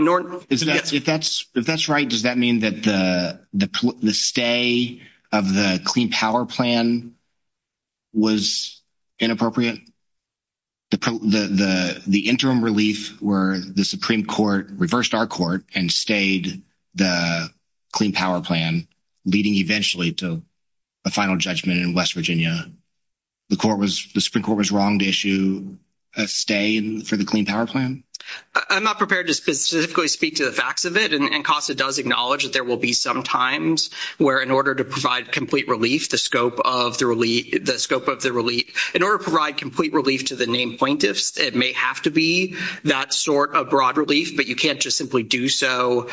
If that's right, does that mean that the stay of the Clean Power Plan was inappropriate? The interim relief where the Supreme Court reversed our court and stayed the Clean Power Plan, leading eventually to a final judgment in West Virginia, the Supreme Court was wrong to issue a stay for the Clean Power Plan? I'm not prepared to specifically speak to the facts of it, and CASA does acknowledge that there will be some times where, in order to provide complete relief, the scope of the In order to provide complete relief to the named plaintiffs, it may have to be that sort of broad relief, but you can't just simply do so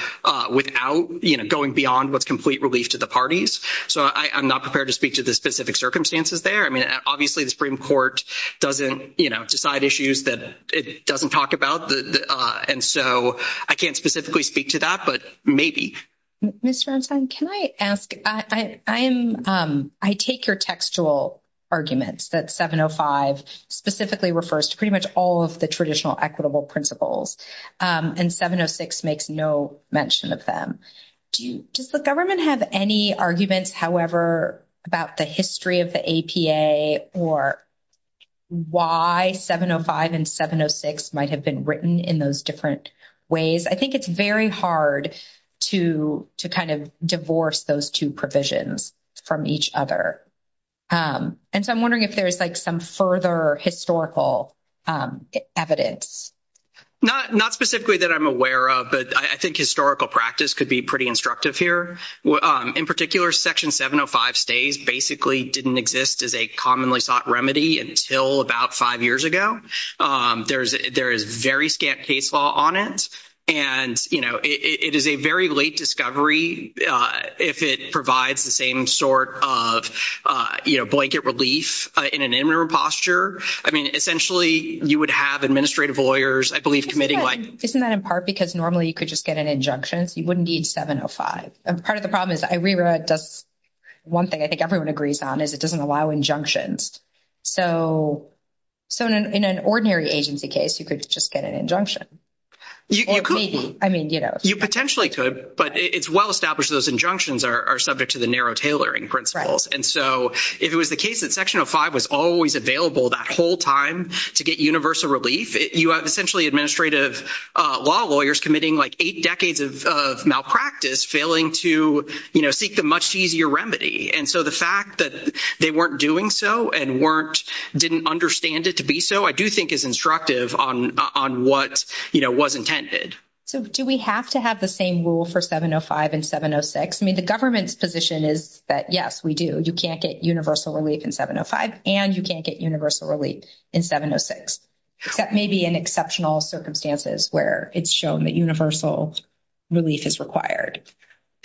without, you know, going beyond with complete relief to the parties. So, I'm not prepared to speak to the specific circumstances there. I mean, obviously, the Supreme Court doesn't, you know, decide issues that it doesn't talk about. And so, I can't specifically speak to that, but maybe. Ms. Ransom, can I ask? I take your textual arguments that 705 specifically refers to pretty much all of the traditional equitable principles, and 706 makes no mention of them. Do you, does the government have any arguments, however, about the history of the APA or why 705 and 706 might have been written in those different ways? I think it's very hard to kind of divorce those two provisions from each other. And so, I'm wondering if there's, like, some further historical evidence. Not specifically that I'm aware of, but I think historical practice could be pretty instructive here. In particular, Section 705 stays basically didn't exist as a commonly sought remedy until about five years ago. There is very stamped case law on it, and, you know, it is a very late discovery if it provides the same sort of, you know, blanket relief in an interim posture. I mean, essentially, you would have administrative lawyers, I believe, committing like— Isn't that in part because normally you could just get an injunction? You wouldn't need 705. Part of the problem is, I reread this one thing I think everyone agrees on, is it doesn't allow injunctions. So, in an ordinary agency case, you could just get an injunction, or maybe. I mean, you know. You potentially could, but it's well established those injunctions are subject to the narrow tailoring principles. And so, if it was the case that Section 705 was always available that whole time to get universal relief, you have essentially administrative law lawyers committing, like, eight decades of malpractice failing to, you know, seek the much easier remedy. And so, the fact that they weren't doing so and weren't—didn't understand it to be so, I do think is instructive on what, you know, was intended. So, do we have to have the same rule for 705 and 706? I mean, the government's position is that, yes, we do. You can't get universal relief in 705, and you can't get universal relief in 706. That may be an exceptional circumstances where it's shown that universal relief is required.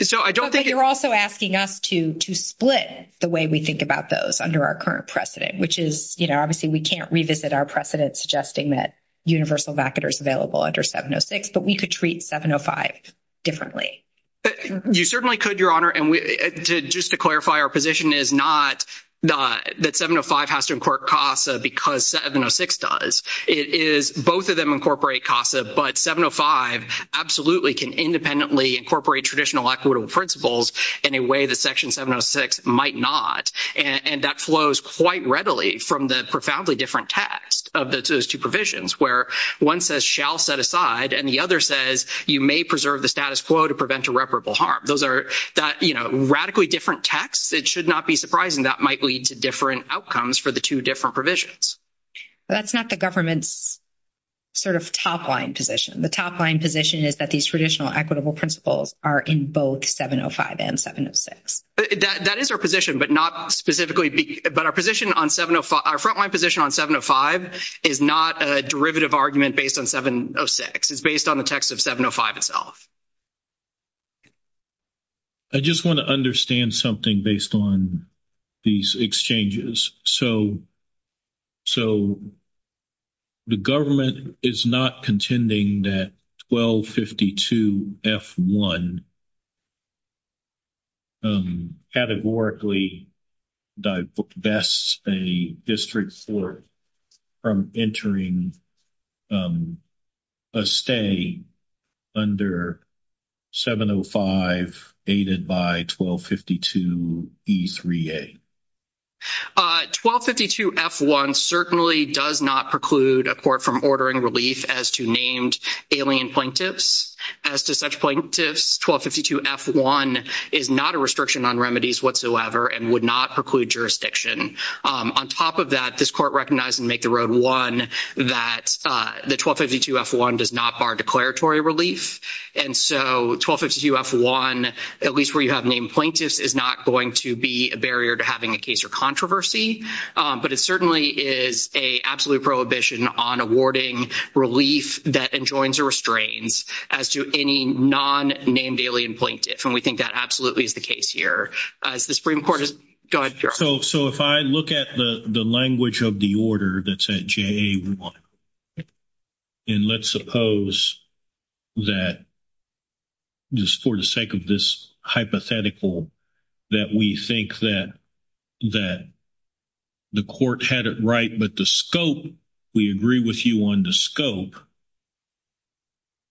So, I don't think— We're also asking us to split the way we think about those under our current precedent, which is, you know, obviously, we can't revisit our precedent suggesting that universal vacuum is available under 706, but we could treat 705 differently. You certainly could, Your Honor. And just to clarify, our position is not that 705 has to incorporate CASA because 706 does. It is both of them incorporate CASA, but 705 absolutely can independently incorporate traditional equitable principles in a way that Section 706 might not. And that flows quite readily from the profoundly different text of those two provisions, where one says, shall set aside, and the other says, you may preserve the status quo to prevent irreparable harm. Those are, you know, radically different texts. It should not be surprising that might lead to different outcomes for the two different provisions. That's not the government's sort of top-line position. The top-line position is that these traditional equitable principles are in both 705 and 706. That is our position, but not specifically—but our position on 705—our front-line position on 705 is not a derivative argument based on 706. It's based on the text of 705 itself. I just want to understand something based on these exchanges. So the government is not contending that 1252 F-1 categorically divests a district court from entering a stay under 705 aided by 1252 E-3A? 1252 F-1 certainly does not preclude a court from ordering relief as to named alien plaintiffs. As to such plaintiffs, 1252 F-1 is not a restriction on remedies whatsoever and would not preclude jurisdiction. On top of that, this court recognized in Make the Road 1 that the 1252 F-1 does not bar declaratory relief. And so 1252 F-1, at least where you have named plaintiffs, is not going to be a barrier to having a case or controversy. But it certainly is an absolute prohibition on awarding relief that enjoins a restraint as to any non-named alien plaintiff. And we think that absolutely is the case here. The Supreme Court is—go ahead, Joe. So if I look at the language of the order that's at JA-1, and let's suppose that, just for the sake of this hypothetical, that we think that the court had it right, but the scope, we agree with you on the scope,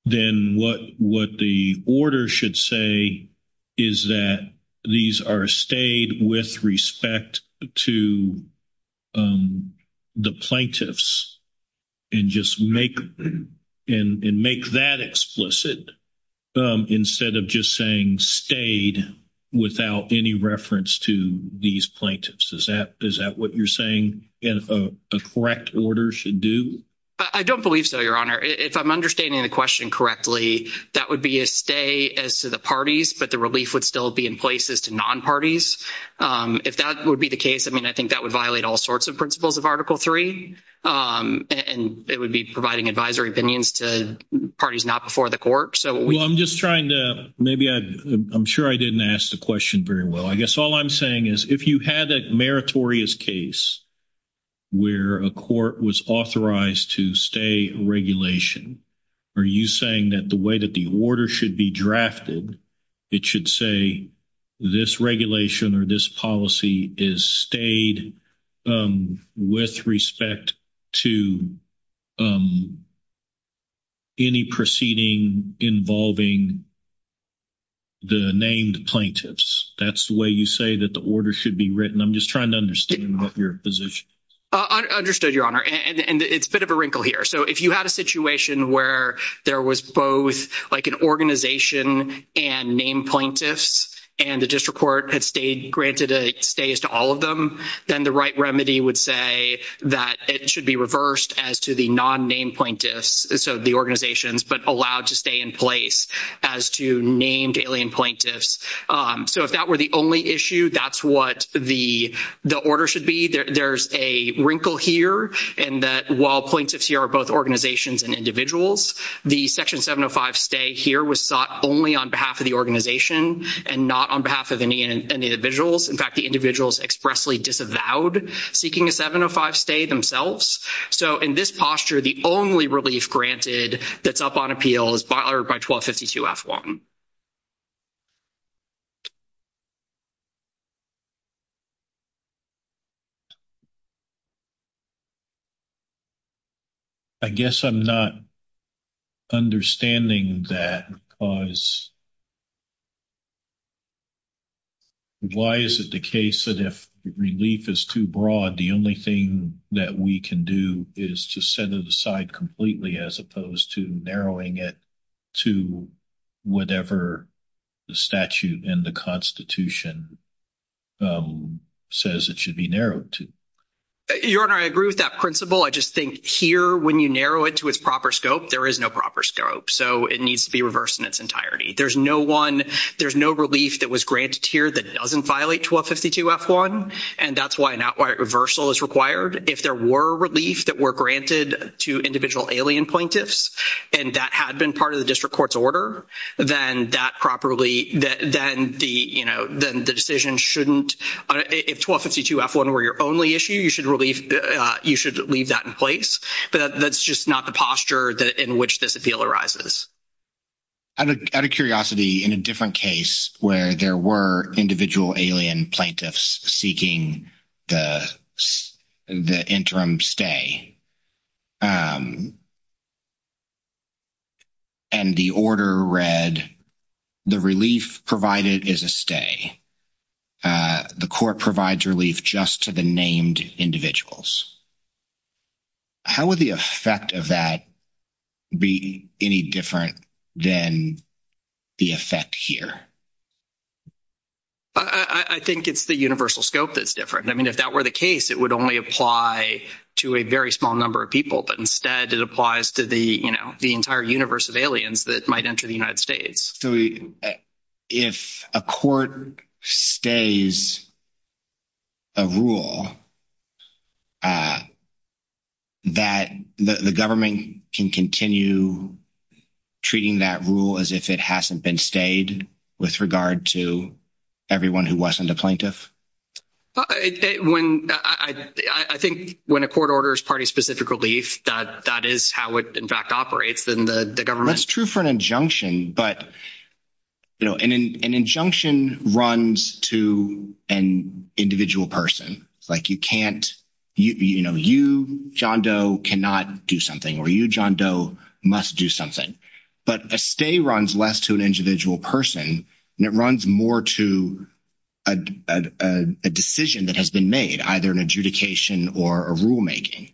then what the order should say is that these are stayed with respect to the plaintiffs. And just make that explicit instead of just saying stayed without any reference to these plaintiffs. Is that what you're saying a correct order should do? I don't believe so, Your Honor. If I'm understanding the question correctly, that would be a stay as to the parties, but the relief would still be in places to non-parties. If that would be the case, I mean, I think that would violate all sorts of principles of Article III, and it would be providing advisory opinions to parties not before the court. Well, I'm just trying to—maybe I—I'm sure I didn't ask the question very well. I guess all I'm saying is if you had a meritorious case where a court was authorized to stay a regulation, are you saying that the way that the order should be drafted, it should say this regulation or this policy is stayed with respect to any proceeding involving the named plaintiffs? That's the way you say that the order should be written? I'm just trying to understand your position. Understood, Your Honor, and it's a bit of a wrinkle here. If you had a situation where there was both an organization and named plaintiffs, and the district court had stayed—granted a stay to all of them, then the right remedy would say that it should be reversed as to the non-named plaintiffs, so the organizations, but allowed to stay in place as to named alien plaintiffs. If that were the only issue, that's what the order should be. There's a wrinkle here in that while plaintiffs here are both organizations and individuals, the Section 705 stay here was sought only on behalf of the organization and not on behalf of any individuals. In fact, the individuals expressly disavowed seeking a 705 stay themselves. So, in this posture, the only relief granted that's up on appeal is by 1252-F1. I guess I'm not understanding that because it's—why is it the case that if relief is too broad, the only thing that we can do is to set it aside completely as opposed to narrowing it to whatever the statute and the Constitution says it should be narrowed to? Your Honor, I agree with that principle. I just think here, when you narrow it to its proper scope, there is no proper scope. So, it needs to be reversed in its entirety. There's no one—there's no relief that was granted here that doesn't violate 1252-F1, and that's why not wide reversal is required. If there were relief that were granted to individual alien plaintiffs, and that had been part of the district court's order, then that properly—then the decision shouldn't—if 1252-F1 were your only issue, you should leave that in place. That's just not the posture in which this appeal arises. Out of curiosity, in a different case where there were individual alien plaintiffs seeking the interim stay, and the order read, the relief provided is a stay. The court provides relief just to the named individuals. How would the effect of that be any different than the effect here? I think it's the universal scope that's different. I mean, if that were the case, it would only apply to a very small number of people, but instead it applies to the entire universe of aliens that might enter the United States. So if a court stays a rule, that the government can continue treating that rule as if it hasn't been stayed with regard to everyone who wasn't a plaintiff? I think when a court orders party-specific relief, that is how it in fact operates in the government. It's true for an injunction, but an injunction runs to an individual person. You, John Doe, cannot do something, or you, John Doe, must do something. But a stay runs less to an individual person, and it runs more to a decision that has been made, either an adjudication or a rulemaking.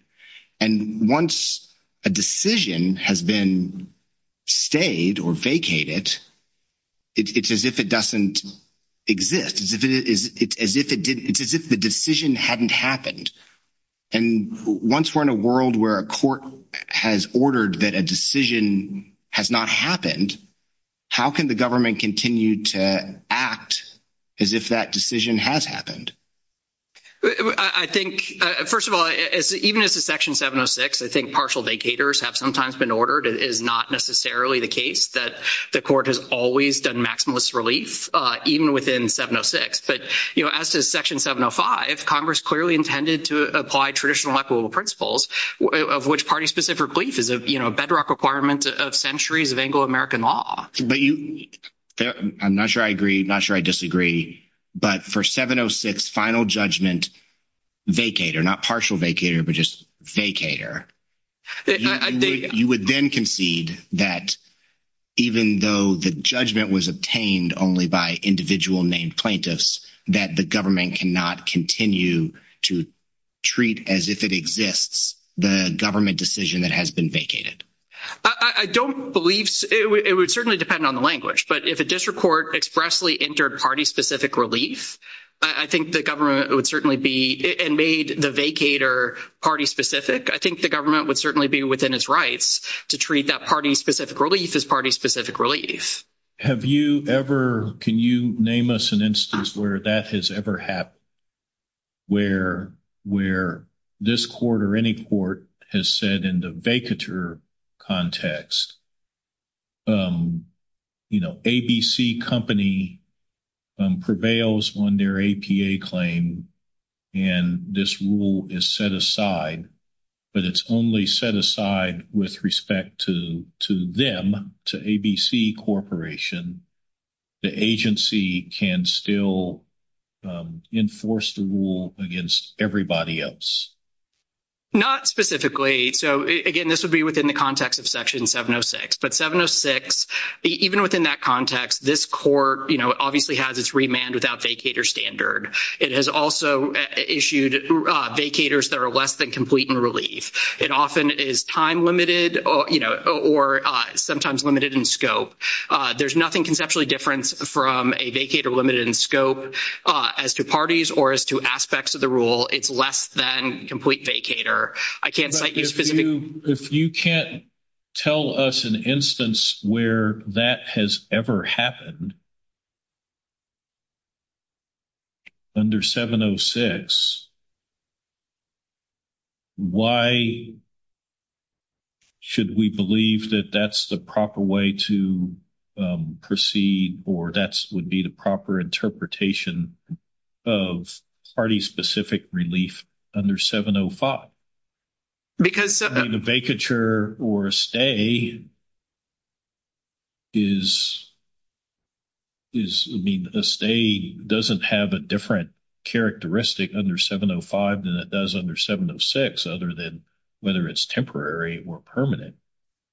And once a decision has been stayed or vacated, it's as if it doesn't exist. It's as if the decision hadn't happened. And once we're in a world where a court has ordered that a decision has not happened, how can the government continue to act as if that decision has happened? I think, first of all, even as a Section 706, I think partial vacators have sometimes been ordered. It is not necessarily the case that the court has always done maximalist relief, even within 706. But, you know, as to Section 705, Congress clearly intended to apply traditional applicable principles, of which party-specific relief is a bedrock requirement of centuries of Anglo-American law. But you, I'm not sure I agree, not sure I disagree, but for 706 final judgment vacator, not partial vacator, but just vacator, you would then concede that even though the judgment was obtained only by individual named plaintiffs, that the government cannot continue to treat as if it exists the government decision that has been vacated. I don't believe, it would certainly depend on the language, but if a district court expressly entered party-specific relief, I think the government would certainly be, and made the vacator party-specific, I think the government would certainly be within its rights to treat that party-specific relief as party-specific relief. Have you ever, can you name us an instance where that has ever happened, where this court or any court has said in the vacator context, you know, ABC company prevails on their APA claim, and this rule is set aside, but it's only set aside with respect to them, to ABC Corporation, the agency can still enforce the rule against everybody else? Not specifically. So again, this would be within the context of section 706, but 706, even within that context, this court, you know, obviously has its remand without vacator standard. It has also issued vacators that are less than complete in relief. It often is time-limited, you know, or sometimes limited in scope. There's nothing conceptually different from a vacator limited in scope as to parties or as to aspects of the rule. It's less than complete vacator. I can't thank you. If you can't tell us an instance where that has ever happened under 706, why should we believe that that's the proper way to proceed, or that would be the proper interpretation of party-specific relief under 705? Because the vacature or stay is, I mean, the stay doesn't have a different characteristic under 705 than it does under 706, other than whether it's temporary or permanent.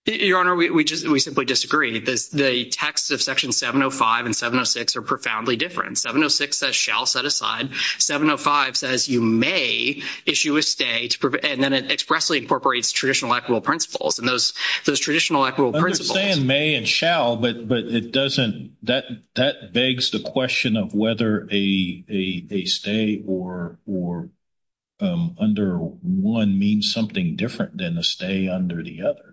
Your Honor, we simply disagree. The texts of section 705 and 706 are profoundly different. 706 says, shall set aside. 705 says, you may issue a stay, and then it expressly incorporates traditional equitable principles. And those traditional equitable principles— I understand may and shall, but that begs the question of whether a stay under one means something different than a stay under the other.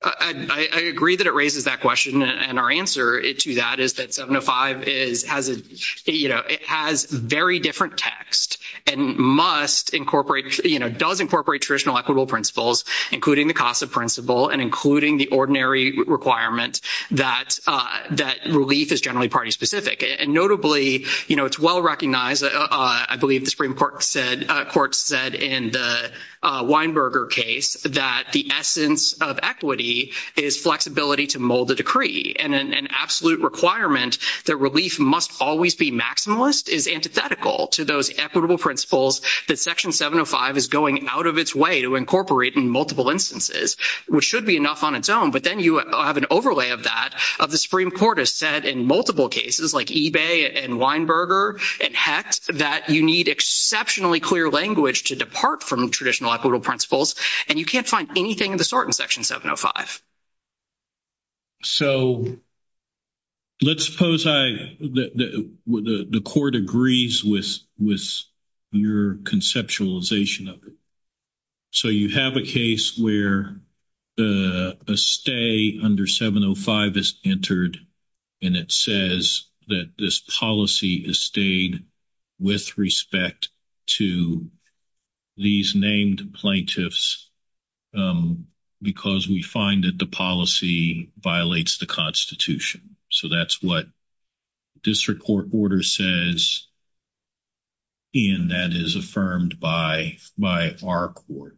I agree that it raises that question. And our answer to that is that 705 has a—you know, it has very different text and must incorporate—you know, does incorporate traditional equitable principles, including the CASA principle and including the ordinary requirement that relief is generally party-specific. And notably, you know, it's well-recognized—I believe the Supreme Court said in the Weinberger case that the essence of equity is flexibility to mold a decree. And an absolute requirement that relief must always be maximalist is antithetical to those equitable principles that section 705 is going out of its way to incorporate in multiple instances, which should be enough on its own. But then you have an overlay of that, of the Supreme Court has said in multiple cases, like eBay and Weinberger and HECS, that you need exceptionally clear language to depart from traditional equitable principles, and you can't find anything in the sort in section 705. So let's suppose I—the Court agrees with your conceptualization of it. So you have a case where the stay under 705 is entered, and it says that this policy is with respect to these named plaintiffs because we find that the policy violates the Constitution. So that's what this court order says, and that is affirmed by our court.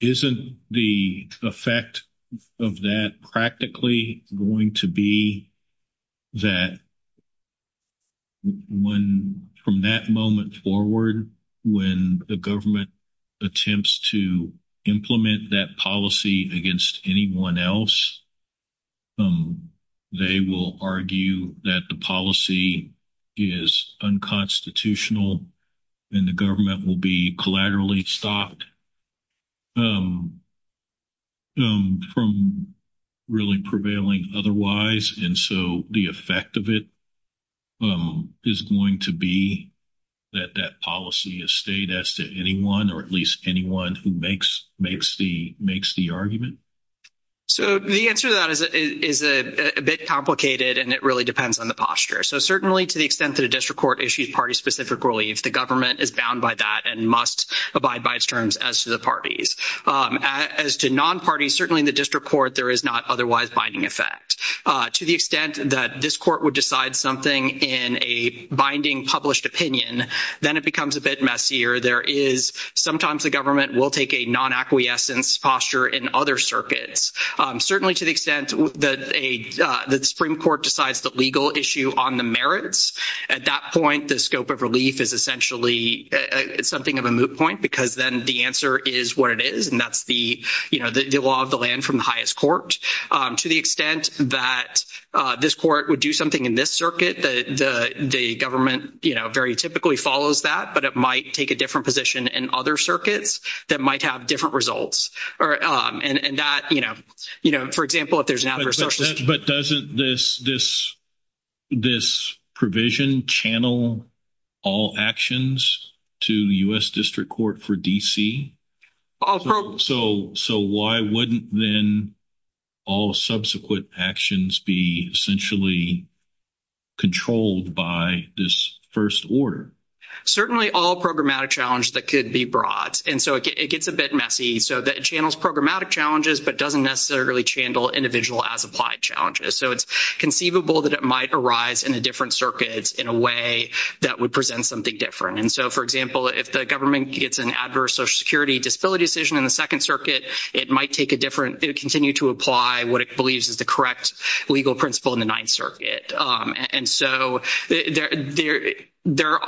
Isn't the effect of that practically going to be that from that moment forward, when the government attempts to implement that policy against anyone else, they will argue that the policy is unconstitutional and the government will be collaterally stopped from really prevailing otherwise? And so the effect of it is going to be that that policy is stayed as to anyone or at least anyone who makes the argument? So the answer to that is a bit complicated, and it really depends on the posture. So certainly to the extent that a district court issues party-specific relief, the government is bound by that and must abide by its terms as to the parties. As to non-parties, certainly in the district court, there is not otherwise binding effect. To the extent that this court would decide something in a binding published opinion, then it becomes a bit messier. Sometimes the government will take a non-acquiescence posture in other circuits. Certainly to the extent that the Supreme Court decides the legal issue on the merits, at that point, the scope of relief is essentially something of a moot point, because then the answer is what it is, and that's the law of the land from the highest court. To the extent that this court would do something in this circuit, the government very typically follows that, but it might take a different position in other circuits that might have different results. For example, if there's an adverse... But doesn't this provision channel all actions to the U.S. District Court for D.C.? So why wouldn't then all subsequent actions be essentially controlled by this first order? Certainly all programmatic challenges that could be brought, and so it gets a bit messy. So that channels programmatic challenges, but doesn't necessarily channel individual as applied challenges. So it's conceivable that it might arise in a different circuit in a way that would present something different. And so, for example, if the government gets an adverse Social Security disability decision in the Second Circuit, it might take a different... It would continue to apply what it believes is the correct legal principle in the Ninth Circuit. And so there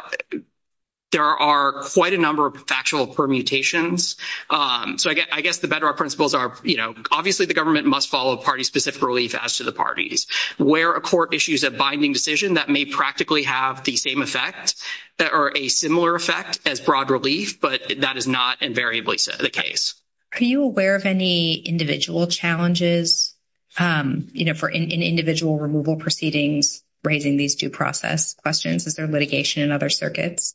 are quite a number of actual permutations. So I guess the bedrock principles are, you know, obviously the government must follow party-specific relief as to the parties. Where a court issues a binding decision that may practically have the same effect or a similar effect as broad relief, but that is not invariably the case. Are you aware of any individual challenges, you know, for individual removal proceedings raising these due process questions? Is there litigation in other circuits?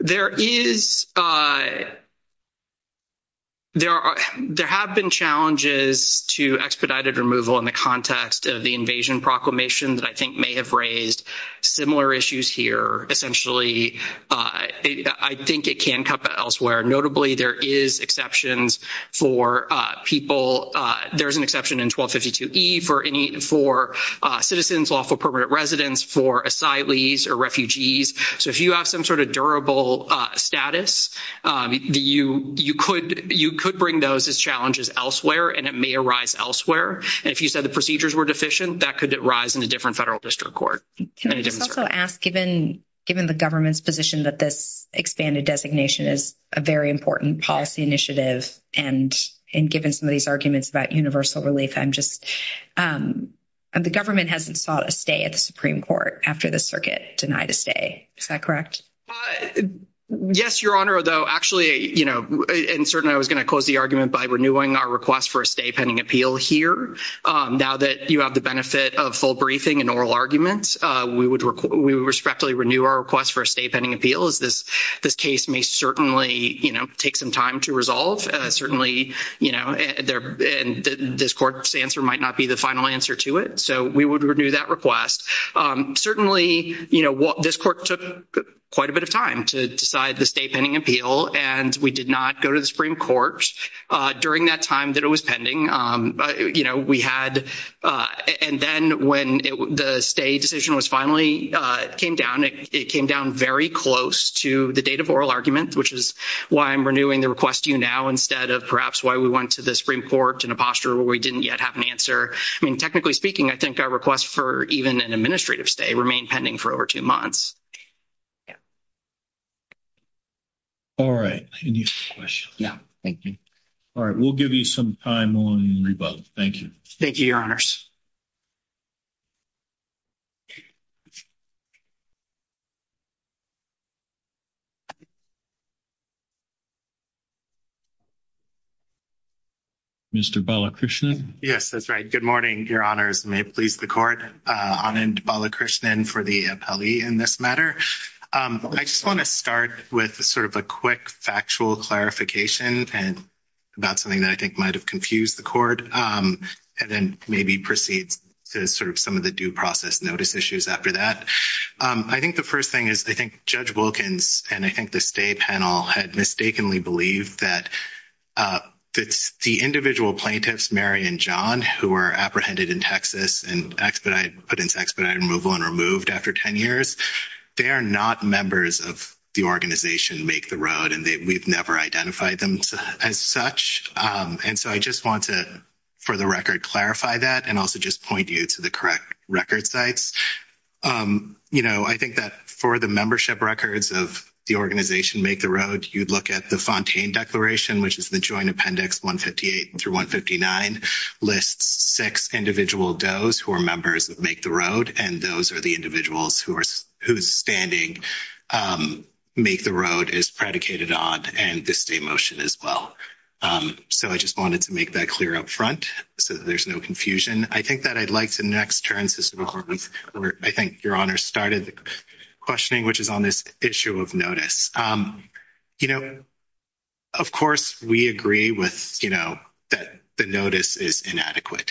There is. There have been challenges to expedited removal in the context of the invasion proclamation that I think may have raised similar issues here. Essentially, I think it can come from elsewhere. Notably, there is exceptions for people. There is an exception in 1252E for citizens, lawful permanent residents, for asylees or refugees. So if you have some sort of durable status, you could bring those as challenges elsewhere and it may arise elsewhere. And if you said the procedures were deficient, that could arise in a different federal district court. Can I just also ask, given the government's position that this expanded designation is a very important policy initiative and given some of these arguments about universal relief, I'm just, the government hasn't sought a stay at the Supreme Court after the circuit denied a stay. Is that correct? Yes, Your Honor, although actually, you know, and certainly I was going to close the argument by renewing our request for a stay pending appeal here. Now that you have the benefit of full briefing and oral arguments, we would respectfully renew our request for a stay pending appeal as this case may certainly, you know, take some time to resolve. Certainly, you know, and this court's answer might not be the final answer to it. So we would renew that request. Certainly, you know, this court took quite a bit of time to decide the stay pending appeal and we did not go to the Supreme Court during that time that it was pending. You know, we had, and then when the stay decision was finally came down, it came down very close to the date of oral argument, which is why I'm renewing the request to you now instead of perhaps why we went to the Supreme Court in a posture where we didn't yet have an answer. I mean, technically speaking, I think our request for even an administrative stay remained pending for over two months. All right. Yeah, thank you. All right. We'll give you some time on rebuttal. Thank you. Thank you, Your Honors. Mr. Balakrishnan. Yes, that's right. Good morning, Your Honors. May it please the court. Anand Balakrishnan for the appellee in this matter. I just want to start with sort of a quick factual clarification about something that I think might have confused the court and then maybe proceed to sort of some of the due process notice issues after that. I think the first thing is I think Judge Wilkins and I think the stay panel had mistakenly believed that the individual plaintiffs, Mary and John, who were apprehended in Texas and put into removal and removed after 10 years, they are not members of the organization Make the Road, and we've never identified them as such. And so I just want to, for the record, clarify that and also just point you to the correct record sites. You know, I think that for the membership records of the organization Make the Road, you'd look at the Fontaine Declaration, which is the Joint Appendix 158 through 159, lists six individual does who are members of Make the Road, and those are the individuals whose standing Make the Road is predicated on and this same motion as well. So I just wanted to make that clear up front so there's no confusion. I think that I'd like to next turn, Sister McCormick, I think Your Honor started questioning, which is on this issue of notice. You know, of course, we agree with, you know, that the notice is inadequate.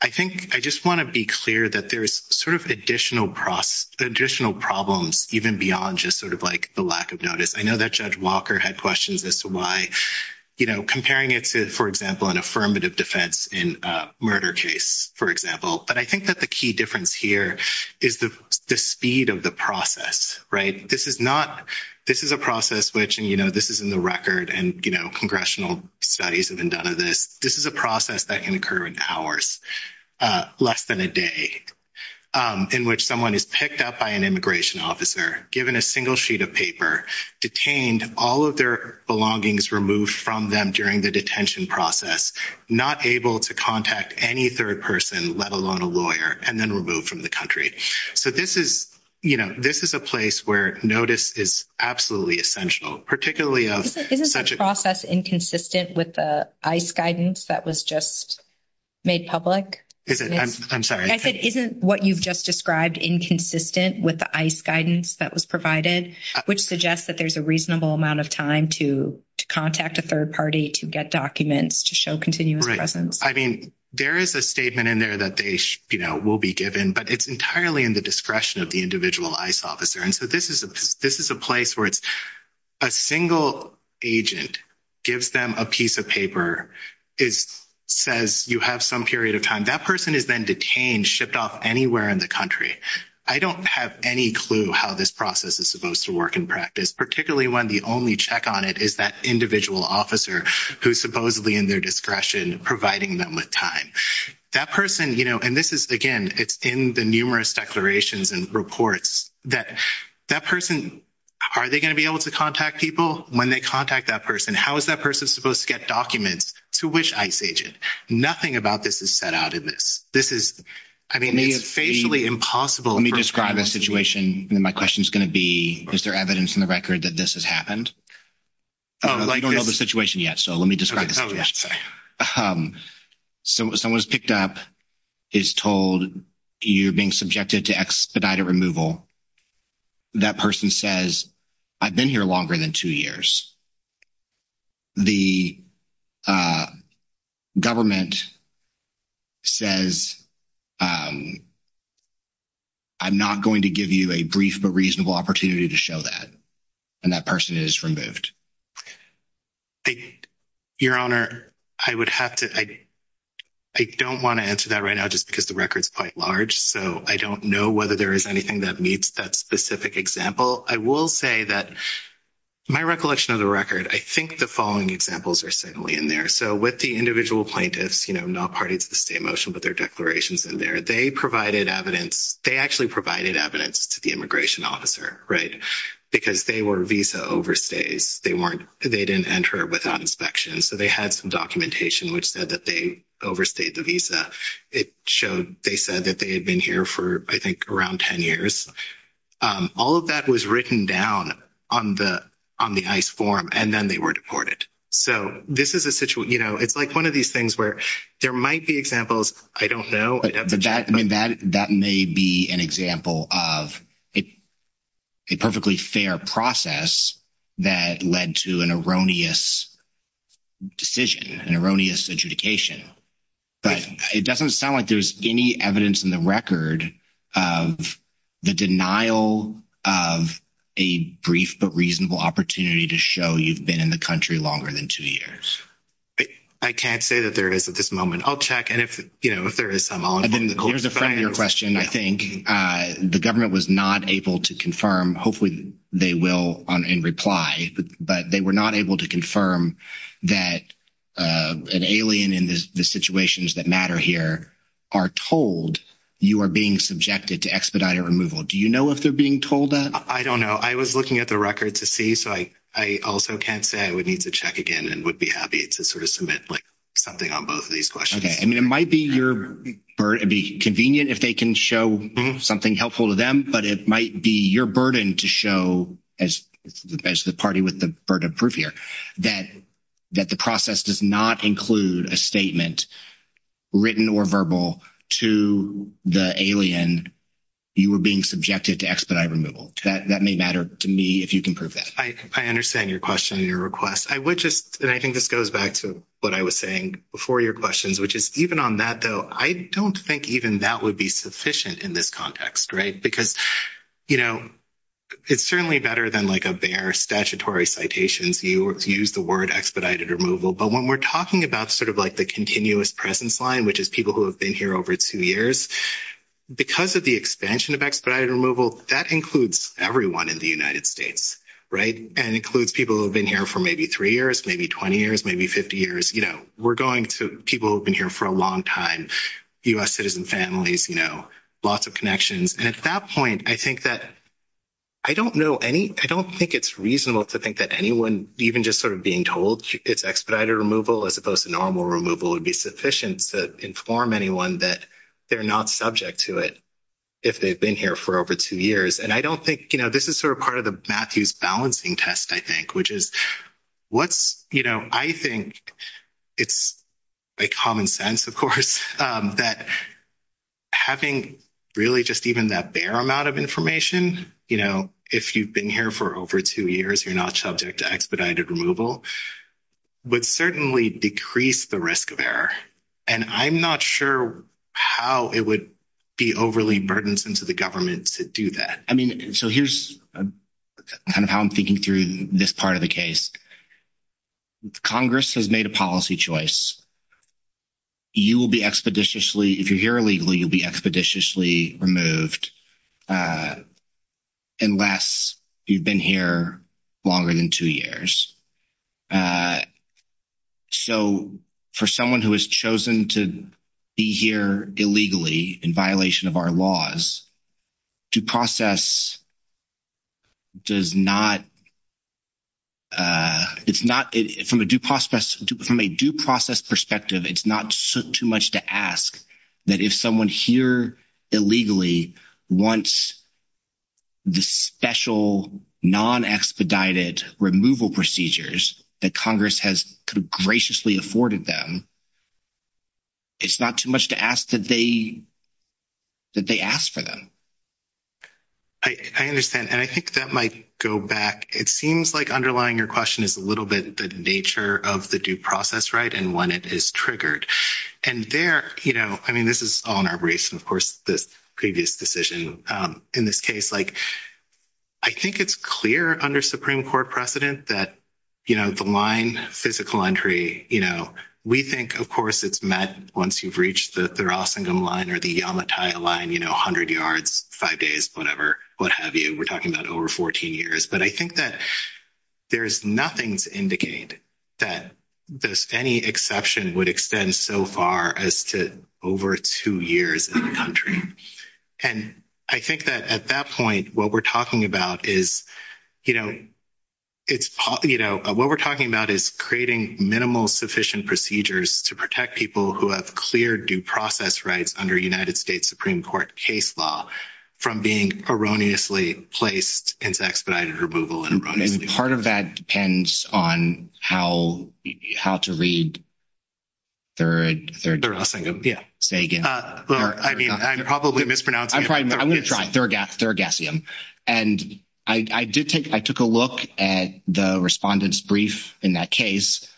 I think I just want to be clear that there is sort of additional problems even beyond just sort of like the lack of notice. I know that Judge Walker had questions as to why, you know, comparing it to, for example, an affirmative defense in a murder case, for example, but I think that the key difference here is the speed of the process, right? This is not, this is a process which, and, you know, this is in the record and, you know, congressional studies have been done of this. This is a process that can occur in hours, less than a day, in which someone is picked up by an immigration officer, given a single sheet of paper, detained, all of their belongings removed from them during the detention process, not able to contact any third person, let alone a lawyer, and then removed from the country. So this is, you know, this is a place where notice is absolutely essential, particularly of such a... MARY JO GIOVACCHINI Isn't this process inconsistent with the ICE guidance that was just made public? JUDGE WALKER I'm sorry. MARY JO GIOVACCHINI Isn't what you've just described inconsistent with the ICE guidance that was provided, which suggests that there's a reasonable amount of time to contact a third party, to get documents, to show continuous presence? JUDGE WALKER Right. I mean, there is a statement in there that they, you know, will be given, but it's entirely in the discretion of the individual ICE officer. And so this is a place where a single agent gives them a piece of paper. It says you have some period of time. That person has been detained, shipped off anywhere in the country. I don't have any clue how this process is supposed to work in practice, particularly when the only check on it is that individual officer who's supposedly in their discretion, providing them with time. That person, you know, and this is, again, it's in the numerous declarations and reports that that person, are they going to be able to contact people when they contact that person? How is that person supposed to get documents to which ICE agent? Nothing about this is set out in this. This is, I mean, it's basically impossible. JUDGE WALKER Let me describe the situation. My question is going to be, is there evidence in the record that this has happened? I don't know the situation yet, so let me describe it. So someone's picked up, is told you're being subjected to expedited removal. That person says, I've been here longer than two years. The government says, I'm not going to give you a brief but reasonable opportunity to show that. And that person is removed. Your Honor, I would have to, I don't want to answer that right now just because the record's quite large, so I don't know whether there is anything that meets that specific example. I will say that my recollection of the record, I think the following examples are certainly in there. So with the individual plaintiffs, you know, not parties of the state motion, but their declarations in there, they provided evidence. They actually provided evidence to the immigration officer, right, because they were visa overstays they weren't, they didn't enter without inspection. So they had some documentation which said that they overstayed the visa. It showed, they said that they had been here for, I think, around 10 years. All of that was written down on the ICE form and then they were deported. So this is a situation, you know, it's like one of these things where there might be examples, I don't know. But that may be an example of a perfectly fair process that led to an erroneous decision, an erroneous interdication. But it doesn't sound like there's any evidence in the record of the denial of a brief but reasonable opportunity to show you've been in the country longer than two years. I can't say that there is at this moment. I'll check and if, you know, if there is some... Again, here's a friendlier question, I think. The government was not able to confirm, hopefully they will in reply, but they were not able to confirm that an alien in the situations that matter here are told you are being subjected to expedited removal. Do you know if they're being told that? I don't know. I was looking at the record to see. So I also can't say. I would need to check again and would be happy to sort of submit, like, something on both of these questions. I mean, it might be your burden, it'd be convenient if they can show something helpful to them, but it might be your burden to show, as the party with the burden of proof here, that the process does not include a statement written or verbal to the alien you were being subjected to expedited removal. That may matter to me if you can prove that. I understand your question and your request. I would just... And I think this goes back to what I was saying before your questions, which is even on that, though, I don't think even that would be sufficient in this context, right? Because, you know, it's certainly better than, like, a bare statutory citation to use the word expedited removal. But when we're talking about sort of, like, the continuous presence line, which is people who have been here over two years, because of the expansion of expedited removal, that includes everyone in the United States, right? And includes people who have been here for maybe three years, maybe 20 years, maybe 50 years. You know, we're going to people who have been here for a long time, U.S. citizen families, you know, lots of connections. And at that point, I think that... I don't know any... I don't think it's reasonable to think that anyone, even just sort of being told it's expedited removal as opposed to normal removal, would be sufficient to inform anyone that they're not subject to it if they've been here for over two years. And I don't think, you know, this is sort of part of the Matthews balancing test, I think, which is what's, you know, I think it's common sense, of course, that having really just even that bare amount of information, you know, if you've been here for over two years, you're not subject to expedited removal, would certainly decrease the risk of error. And I'm not sure how it would be overly burdensome to the government to do that. So here's kind of how I'm thinking through this part of the case. Congress has made a policy choice. You will be expeditiously... If you're here illegally, you'll be expeditiously removed unless you've been here longer than two years. So, for someone who has chosen to be here illegally, in violation of our laws, due process does not... It's not... From a due process perspective, it's not too much to ask that if someone's here illegally, once the special, non-expedited removal procedures that Congress has graciously afforded them, it's not too much to ask that they ask for them. I understand. And I think that might go back. It seems like underlying your question is a little bit the nature of the due process, right, and when it is triggered. And there, you know, I mean, this is all in our bracing, of course, this previous decision. In this case, like, I think it's clear under Supreme Court precedent that, you know, the line physical entry, you know, we think, of course, it's met once you've reached the Rossingum Line or the Yamataya Line, you know, 100 yards, five days, whatever, what have you. We're talking about over 14 years. But I think that there's nothing to indicate that there's any exception would extend so far as to over two years in the country. And I think that at that point, what we're talking about is, you know, it's, you know, what we're talking about is creating minimal sufficient procedures to protect people who have clear due process rights under United States Supreme Court case law from being erroneously placed as expedited removal. I mean, part of that depends on how to read Thurgassium, yeah, say again. I mean, I'm probably mispronouncing it. I'm going to try, Thurgassium. And I did take, I took a look at the respondent's brief in that case,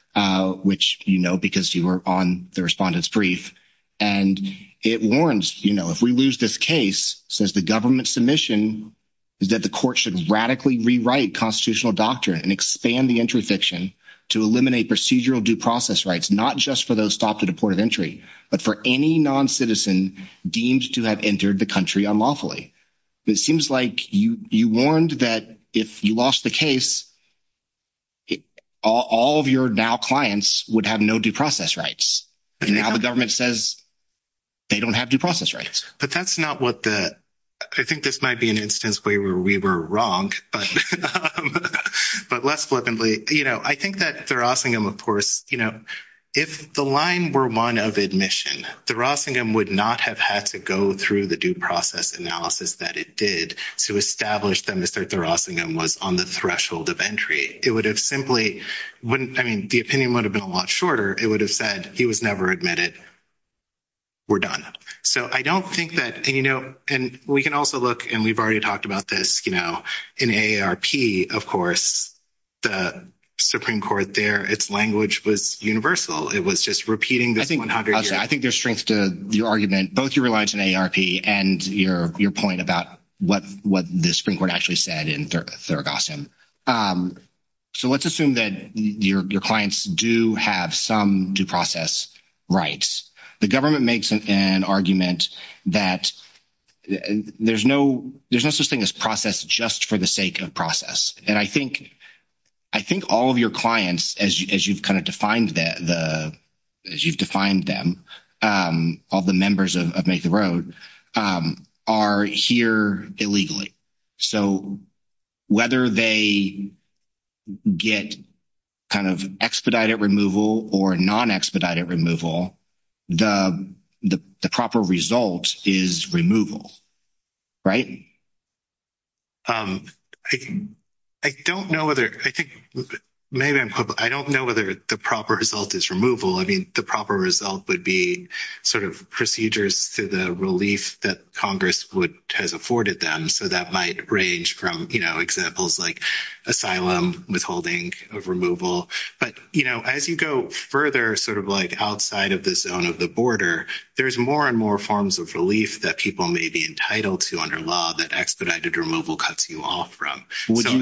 which, you know, because you were on the respondent's brief, and it warns, you know, if we lose this case, says the government submission is that the court should radically rewrite constitutional doctrine and expand the interdiction to eliminate procedural due process rights, not just for those stopped at the port of entry, but for any non-citizen deemed to have entered the country unlawfully. It seems like you warned that if you lost the case, all of your now clients would have no due process rights. But now the government says they don't have due process rights. But that's not what the, I think this might be an instance where we were wrong, but less flippantly, you know, I think that Thurgassium, of course, you know, if the line were one of admission, Thurgassium would not have had to go through the due process analysis that it did to establish that Mr. Thurgassium was on the threshold of entry. It would have simply, I mean, the opinion would have been a lot shorter. It would have said he was never admitted, we're done. So I don't think that, you know, and we can also look, and we've already talked about this, you know, in AARP, of course, the Supreme Court there, its language was universal. It was just repeating. I think there's strength to your argument, both your reliance on AARP and your point about what the Supreme Court actually said in Thurgassium. So let's assume that your clients do have some due process rights. The government makes an argument that there's no such thing as process just for the sake of process. And I think all of your clients, as you've kind of defined them, all the members of Make the Road, are here illegally. So whether they get kind of expedited removal or non-expedited removal, the proper result is removal, right? I don't know whether, I think maybe I'm, I don't know whether the proper result is removal. I mean, the proper result would be sort of procedures to the relief that Congress would have afforded them. So that might range from, you know, examples like asylum, withholding of removal. But, you know, as you go further, sort of like outside of the zone of the border, there's more and more forms of relief that people may be entitled to under law that expedited removal cuts you off from. Would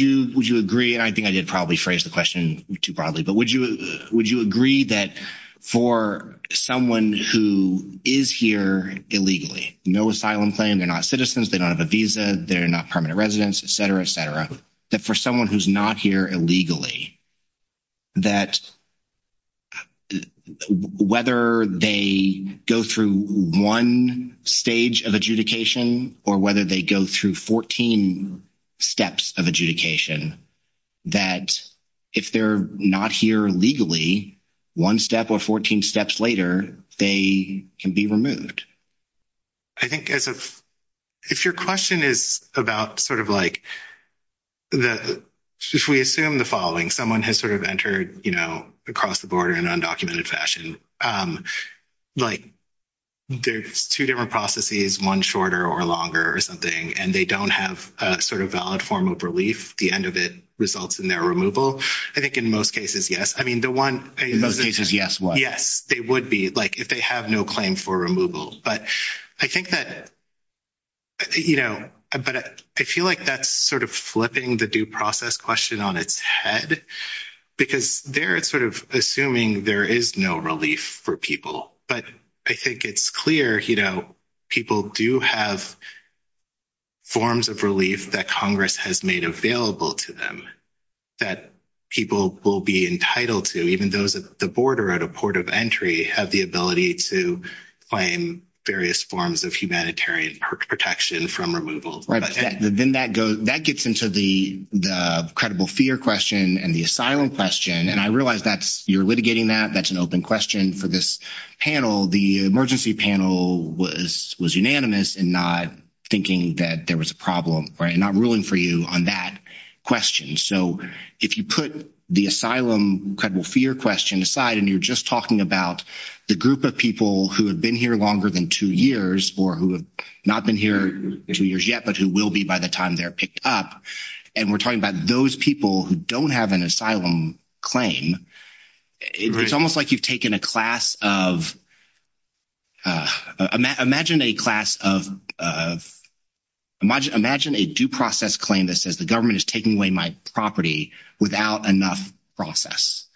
you agree? I think I did probably phrase the question too broadly, but would you agree that for someone who is here illegally, no asylum claim, they're not citizens, they don't have a visa, they're not permanent residents, et cetera, et cetera, that for someone who's not here illegally, that whether they go through one stage of adjudication or whether they go through 14 steps of adjudication, that if they're not here legally, one step or 14 steps later, they can be removed? I think if your question is about sort of like, if we assume the following, someone has sort of entered, you know, across the border in an undocumented fashion, like there's two different processes, one shorter or longer or something, and they don't have a sort of valid form of relief, the end of it results in their removal. I think in most cases, yes. I mean, the one- In most cases, yes, what? Yes, they would be, like if they have no claim for removals. But I think that, you know, but I feel like that's sort of flipping the due process question on its head, because they're sort of assuming there is no relief for people. But I think it's clear, you know, people do have forms of relief that Congress has made available to them that people will be entitled to, even those at the border, at a port of entry, have the ability to claim various forms of humanitarian protection from removal. Right, then that gets into the credible fear question and the asylum question. And I realize that you're litigating that. That's an open question for this panel. The emergency panel was unanimous in not thinking that there was a problem, right? And I'm ruling for you on that question. So if you put the asylum credible fear question aside, and you're just talking about the group of people who have been here longer than two years, or who have not been here two years yet, but who will be by the time they're picked up, and we're talking about those people who don't have an asylum claim, it's almost like you've taken a class of, imagine a class of, imagine a due process claim that says the government is taking away my property without enough process.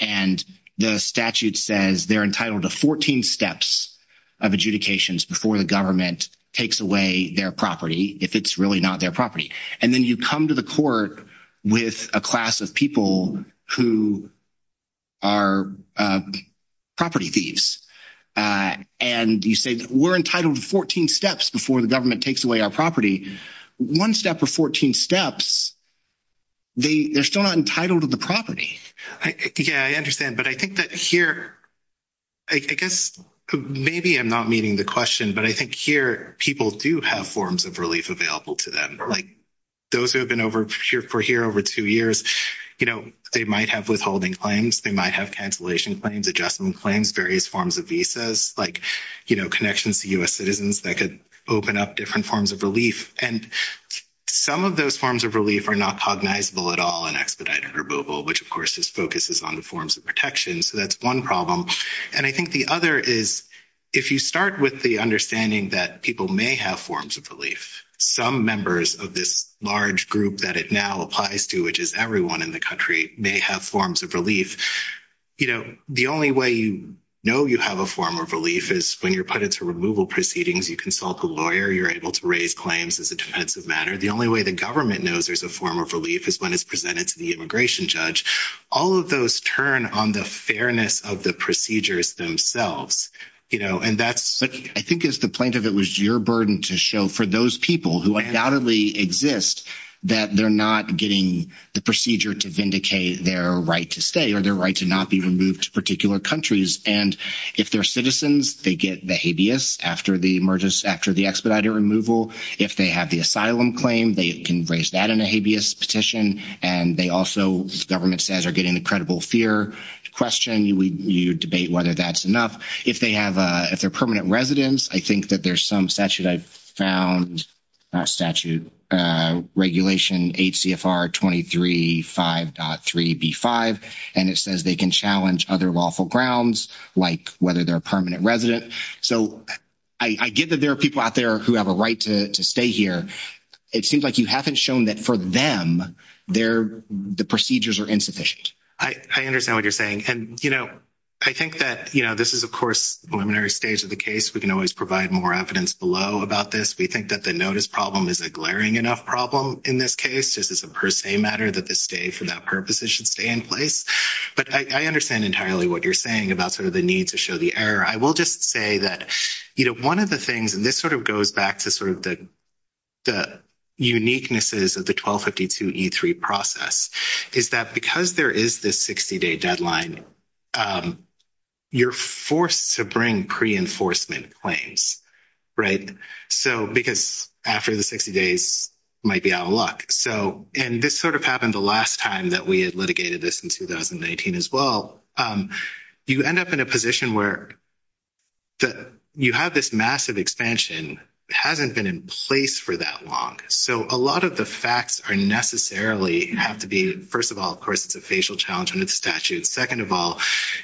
And the statute says they're entitled to 14 steps of adjudications before the government takes away their property, if it's really not their property. And then you come to the court with a class of people who are property thieves. And you say that we're entitled to 14 steps before the government takes away our property. One step or 14 steps, they're still not entitled to the property. Yeah, I understand. But I think that here, I guess, maybe I'm not meeting the question, but I think here people do have forms of relief available to them. Like those who have been over for here over two years, you know, they might have withholding claims. They might have cancellation claims, adjustment claims, various forms of visas, like, you know, connections to U.S. citizens that could open up different forms of relief. And some of those forms of relief are not cognizable at all in expedited or mobile, which, of course, just focuses on the forms of protection. So that's one problem. And I think the other is, if you start with the understanding that people may have forms of relief, some members of this large group that it now applies to, which is everyone in the country, may have forms of relief. You know, the only way you know you have a form of relief is when you're put into removal proceedings. You consult a lawyer. You're able to raise claims as a defensive matter. The only way the government knows there's a form of relief is when it's presented to the immigration judge. All of those turn on the fairness of the procedures themselves. You know, and that's what I think is the plaintiff. It was your burden to show for those people who undoubtedly exist that they're not getting the procedure to vindicate their right to stay or their right to not be removed to particular countries. And if they're citizens, they get the habeas after the emergence, after the expedited removal. If they have the asylum claim, they can raise that in a habeas petition. And they also, as the government says, are getting incredible fear to question. You debate whether that's enough. If they're permanent residents, I think that there's some statute I've found, not statute, regulation HCFR 23.5.3B5, and it says they can challenge other lawful grounds like whether they're a permanent resident. So I get that there are people out there who have a right to stay here. It seems like you haven't shown that for them, the procedures are insufficient. I understand what you're saying. And, you know, I think that, you know, this is, of course, preliminary stage of the case. We can always provide more evidence below about this. We think that the notice problem is a glaring enough problem in this case. This is a per se matter that the stay for that purpose should stay in place. But I understand entirely what you're saying about sort of the need to show the error. I will just say that, you know, one of the things, and this sort of goes back to sort of the uniquenesses of the 1252E3 process, is that because there is this 60-day deadline, you're forced to bring pre-enforcement claims, right? So because after the 60 days, you might be out of luck. So and this sort of happened the last time that we had litigated this in 2019 as well. You end up in a position where you have this massive expansion hasn't been in place for that long. So a lot of the facts are necessarily have to be, first of all, of course, it's a facial challenge under the statute. Second of all,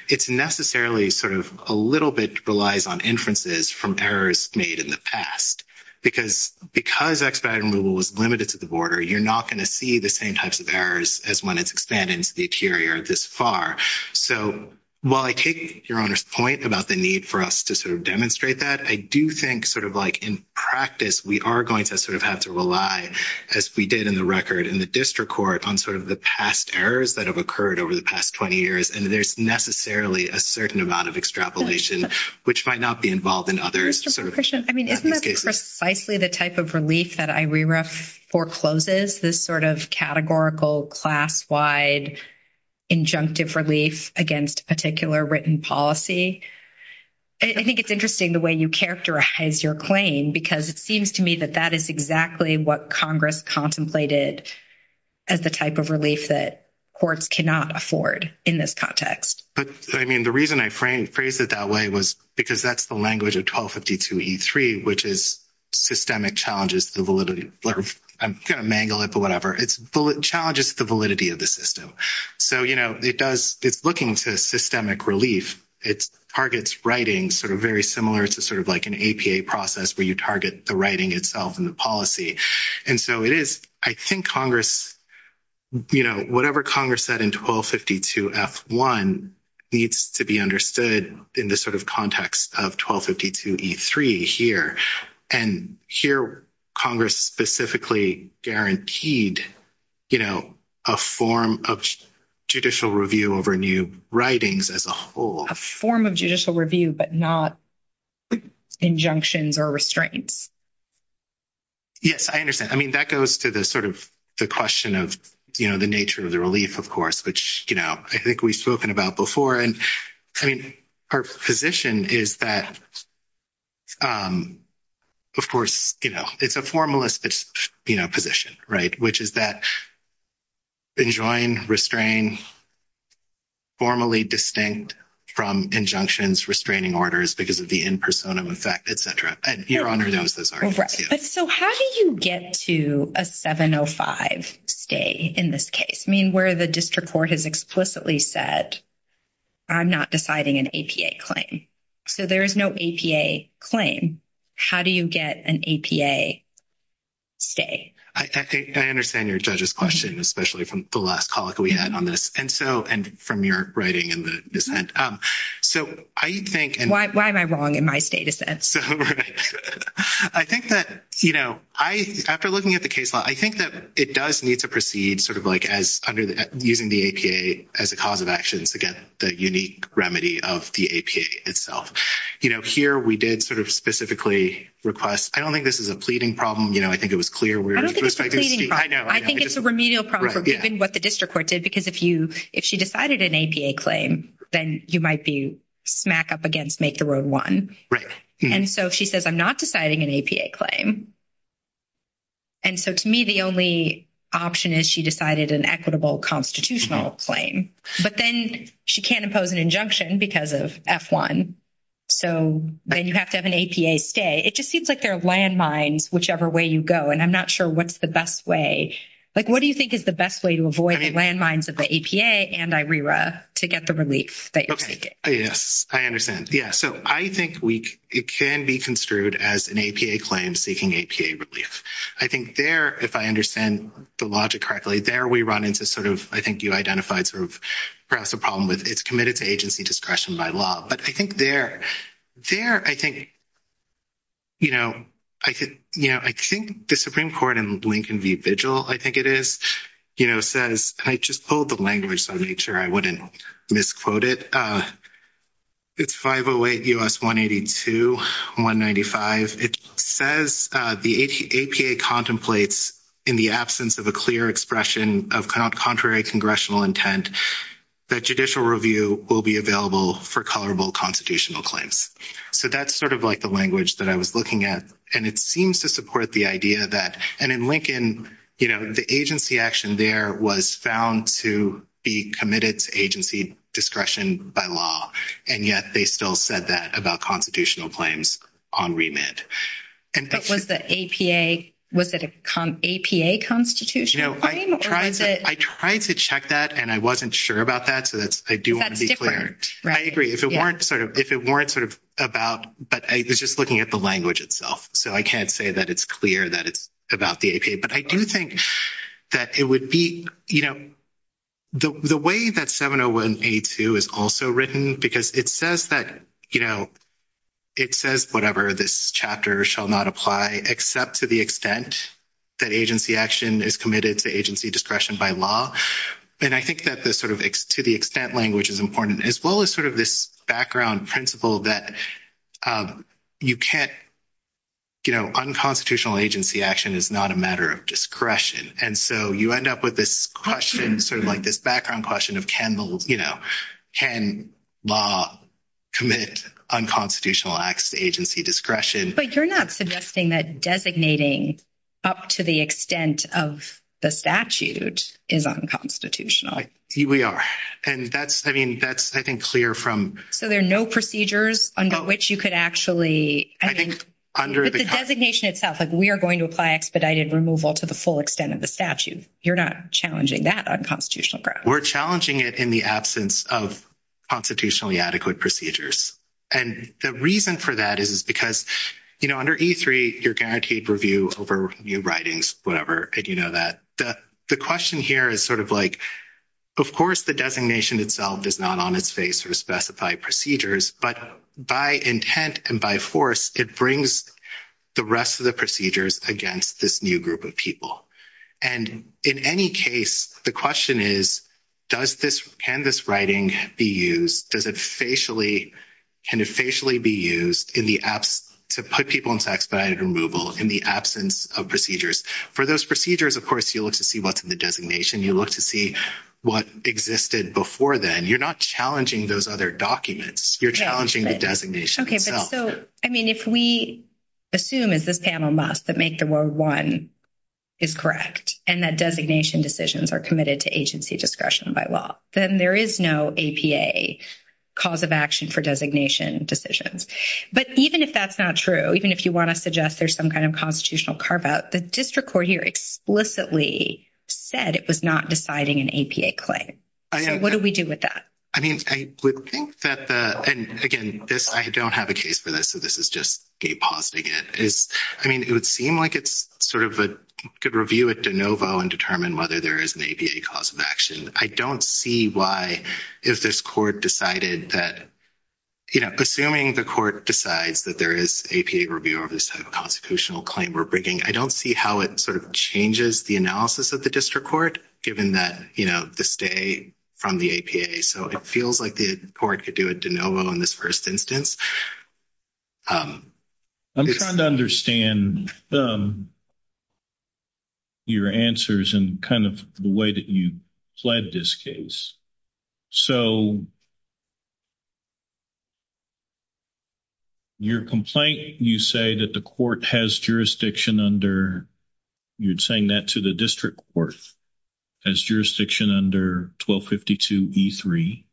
it's necessarily sort of a little bit relies on inferences from errors made in the past. Because because expedited removal was limited to the border, you're not going to see the same types of errors as when it's expanded into the interior this far. So while I take Your Honor's point about the need for us to sort of demonstrate that, I do think sort of like in practice, we are going to sort of have to rely, as we did in the record in the district court on sort of the past errors that have occurred over the past 20 years. And there's necessarily a certain amount of extrapolation, which might not be involved in others. Just a question. I mean, isn't that precisely the type of release that IRERA forecloses? This sort of categorical, class-wide, injunctive relief against a particular written policy? I think it's interesting the way you characterize your claim, because it seems to me that that is exactly what Congress contemplated as the type of relief that courts cannot afford in this context. But I mean, the reason I phrased it that way was because that's the language of 1252E3, which is systemic challenges to the validity. I'm going to mangle it, but whatever. It challenges the validity of the system. So, you know, it's looking for systemic relief. It targets writing sort of very similar to sort of like an APA process where you target the writing itself and the policy. And so it is, I think Congress, you know, whatever Congress said in 1252F1 needs to be understood in the sort of context of 1252E3 here. And here Congress specifically guaranteed, you know, a form of judicial review over new writings as a whole. A form of judicial review, but not injunctions or restraints. Yes, I understand. I mean, that goes to the sort of the question of, you know, the nature of the relief, of course, which, you know, I think we've spoken about before. I mean, her position is that, of course, you know, it's a formalistic, you know, position, right, which is that enjoin, restrain, formally distinct from injunctions, restraining orders because of the in personam effect, et cetera. And Your Honor knows this already. All right. But so how do you get to a 705 stay in this case? I mean, where the district court has explicitly said, I'm not deciding an APA claim. So there is no APA claim. How do you get an APA stay? I think I understand your judge's question, especially from the last college we had on this. And so, and from your writing in the dissent. So I think... Why am I wrong in my status? I think that, you know, I, after looking at the case law, I think that it does need to sort of like as under the, using the APA as a cause of action to get the unique remedy of the APA itself. You know, here we did sort of specifically request, I don't think this is a pleading problem. You know, I think it was clear where... I don't think it's a pleading problem. I think it's a remedial problem for what the district court did, because if you, if she decided an APA claim, then you might be smack up against Make the Road One. Right. And so she says, I'm not deciding an APA claim. And so to me, the only option is she decided an equitable constitutional claim, but then she can't impose an injunction because of F-1. So then you have to have an APA stay. It just seems like there are landmines whichever way you go, and I'm not sure what's the best way. Like, what do you think is the best way to avoid the landmines of the APA and IRERA to get the relief that you're trying to get? Yes, I understand. Yeah, so I think it can be construed as an APA claim seeking APA relief. I think there, if I understand the logic correctly, there we run into sort of, I think you identified sort of perhaps a problem with it's committed to agency discretion by law. But I think there, I think, you know, I think the Supreme Court in Lincoln v. Vigil, I think it is, you know, says, and I just pulled the language so I made sure I wouldn't misquote it, it's 508 U.S. 182, 195. It says the APA contemplates in the absence of a clear expression of contrary congressional intent that judicial review will be available for colorable constitutional claims. So that's sort of like the language that I was looking at, and it seems to support the idea that, and in Lincoln, you know, the agency action there was found to be committed to agency discretion by law, and yet they still said that about constitutional claims on remit. And that was the APA, was it an APA constitutional claim or was it? I tried to check that, and I wasn't sure about that, so I do want to be clear. I agree. If it weren't sort of about, but I was just looking at the language itself. So I can't say that it's clear that it's about the APA, but I do think that it would be, you know, the way that 701A2 is also written, because it says that, you know, it says whatever this chapter shall not apply except to the extent that agency action is committed to agency discretion by law. And I think that the sort of to the extent language is important as well as sort of this background principle that you can't, you know, unconstitutional agency action is not a matter of discretion. And so you end up with this question, sort of like this background question of, you know, can law commit unconstitutional acts to agency discretion? But you're not suggesting that designating up to the extent of the statute is unconstitutional. We are. And that's, I mean, that's, I think, clear from... So there are no procedures under which you could actually... I think under the... Designation itself, we are going to apply expedited removal to the full extent of the statute. You're not challenging that unconstitutional. We're challenging it in the absence of constitutionally adequate procedures. And the reason for that is because, you know, under E3, you're guaranteed review over your writings, whatever, and you know that. The question here is sort of like, of course, the designation itself is not on its face to specify procedures, but by intent and by force, it brings the rest of the procedures against this new group of people. And in any case, the question is, does this... Can this writing be used? Does it facially... Can it facially be used in the absence... To put people in expedited removal in the absence of procedures? For those procedures, of course, you look to see what's in the designation. You look to see what existed before then. You're not challenging those other documents. You're challenging the designation itself. So, I mean, if we assume, as this panel must, that Make the Rule 1 is correct, and that designation decisions are committed to agency discretion by law, then there is no APA cause of action for designation decisions. But even if that's not true, even if you want to suggest there's some kind of constitutional carve-out, the district court here explicitly said it was not deciding an APA claim. What do we do with that? I mean, I would think that the... And again, this... I don't have a case for this, so this is just Gabe pausing it. I mean, it would seem like it's sort of a good review at de novo and determine whether there is an APA cause of action. I don't see why, if this court decided that... You know, assuming the court decides that there is APA review of this kind of constitutional claim we're bringing, I don't see how it sort of changes the analysis of the district court, given that, you know, the stay from the APA. So it feels like the court could do a de novo in this first instance. I'm trying to understand your answers and kind of the way that you fled this case. So your complaint, you say that the court has jurisdiction under... You're saying that to the district court as jurisdiction under 1252 E3.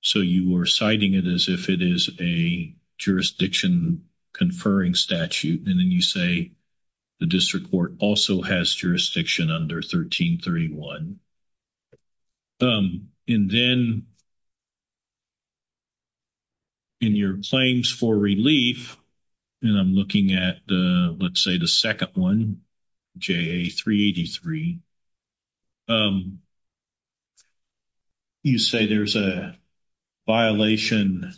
So you are citing it as if it is a jurisdiction conferring statute. And then you say the district court also has jurisdiction under 1331. And then in your claims for relief, and I'm looking at the... Let's say the second one, JA 383. You say there's a violation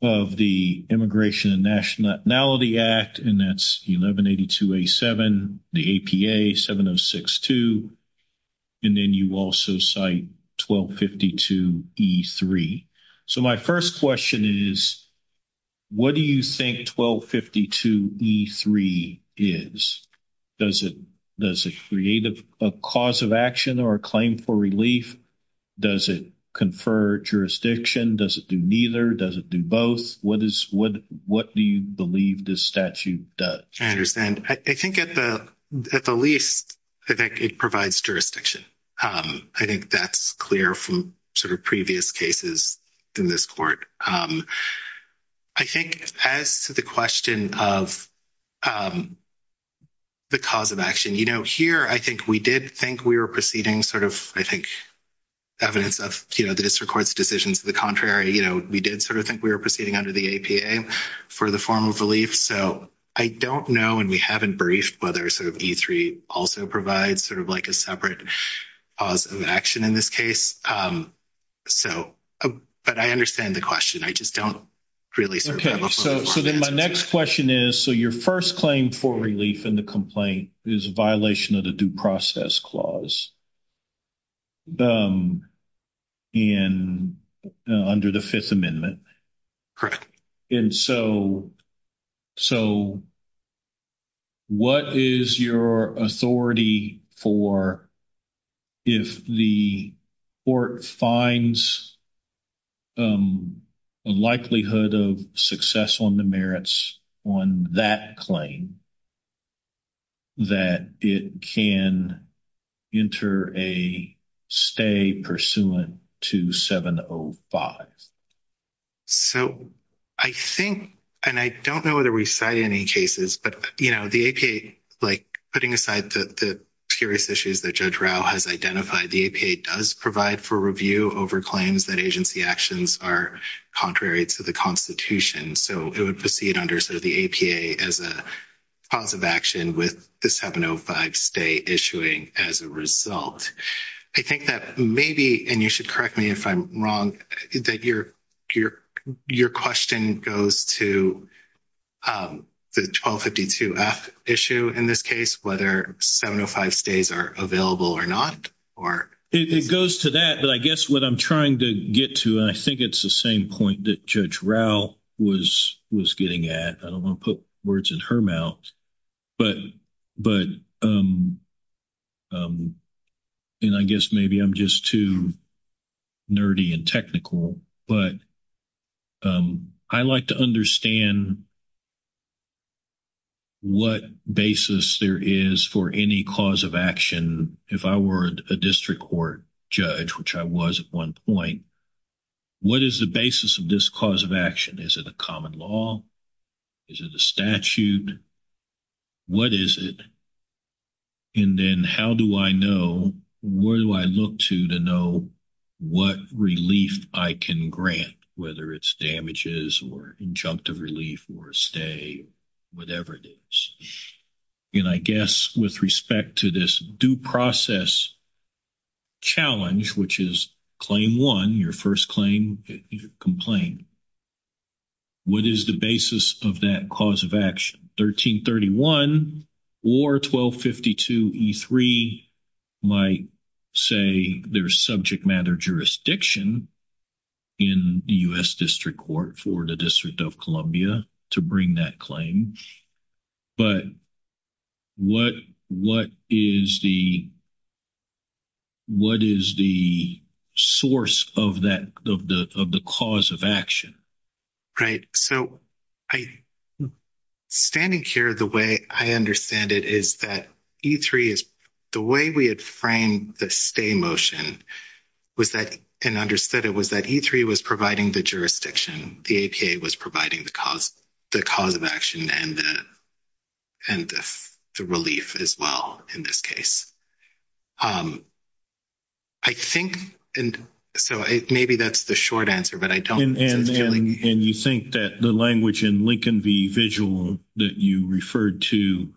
of the Immigration and Nationality Act, and that's 1182 A7, the APA 7062, and then you also cite 1252 E3. So my first question is, what do you think 1252 E3 is? Does it create a cause of action or a claim for relief? Does it confer jurisdiction? Does it do neither? Does it do both? What do you believe this statute does? I understand. I think at the least, it provides jurisdiction. I think that's clear from sort of previous cases in this court. I think as to the question of the cause of action, here, I think we did think we were proceeding sort of, I think, evidence of the district court's decision to the contrary. We did sort of think we were proceeding under the APA for the formal relief. So I don't know, and we haven't briefed, whether E3 also provides sort of like a separate cause of action in this case. But I understand the question. I just don't really... So then my next question is, so your first claim for relief in the complaint is a violation of the Due Process Clause under the Fifth Amendment. Correct. And so what is your authority for, if the court finds a likelihood of success on the merits on that claim, that it can enter a stay pursuant to 705? So I think, and I don't know whether we cite any cases, but, you know, the APA, like putting aside the serious issues that Judge Rao has identified, the APA does provide for review over claims that agency actions are contrary to the Constitution. So it would proceed under the APA as a cause of action with the 705 stay issuing as a result. I think that maybe, and you should correct me if I'm wrong, that your question goes to the 1252-F issue in this case, whether 705 stays are available or not, or... It goes to that, but I guess what I'm trying to get to, and I think it's the same point that Judge Rao was getting at, I don't want to put words in her mouth, but, and I guess maybe I'm just too nerdy and technical, but I like to understand what basis there is for any cause of action, if I were a district court judge, which I was at one point, what is the basis of this cause of action? Is it a common law? Is it a statute? What is it? And then how do I know, where do I look to, to know what relief I can grant, whether it's damages or injunctive relief or a stay, whatever it is. And I guess with respect to this due process challenge, which is claim one, your first claim, your complaint, what is the basis of that cause of action? 1331 or 1252-E3 might say there's subject matter jurisdiction in the U.S. District Court for the District of Columbia to bring that claim. But what, what is the, what is the source of that, of the, of the cause of action? Right. So I, standing here, the way I understand it is that E3, the way we had framed the stay motion was that, and understood it was that E3 was providing the jurisdiction. The APA was providing the cause, the cause of action and the relief as well in this case. I think, and so maybe that's the short answer, but I don't. And you think that the language in Lincoln v. Vigil that you referred to,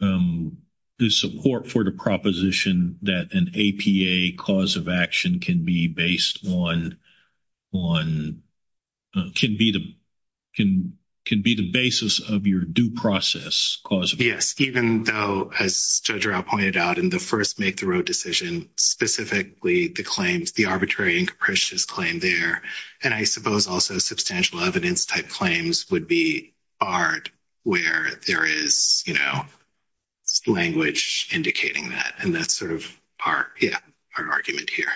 the support for the proposition that an APA cause of action can be based on, on, can be the, can be the basis of your due process cause of action. Yes. Even though, as Judge Rao pointed out in the first make the road decision, specifically the claims, the arbitrary and capricious claim there, and I suppose also substantial evidence type claims would be barred where there is, you know, language indicating that and that's sort of our, yeah, our argument here.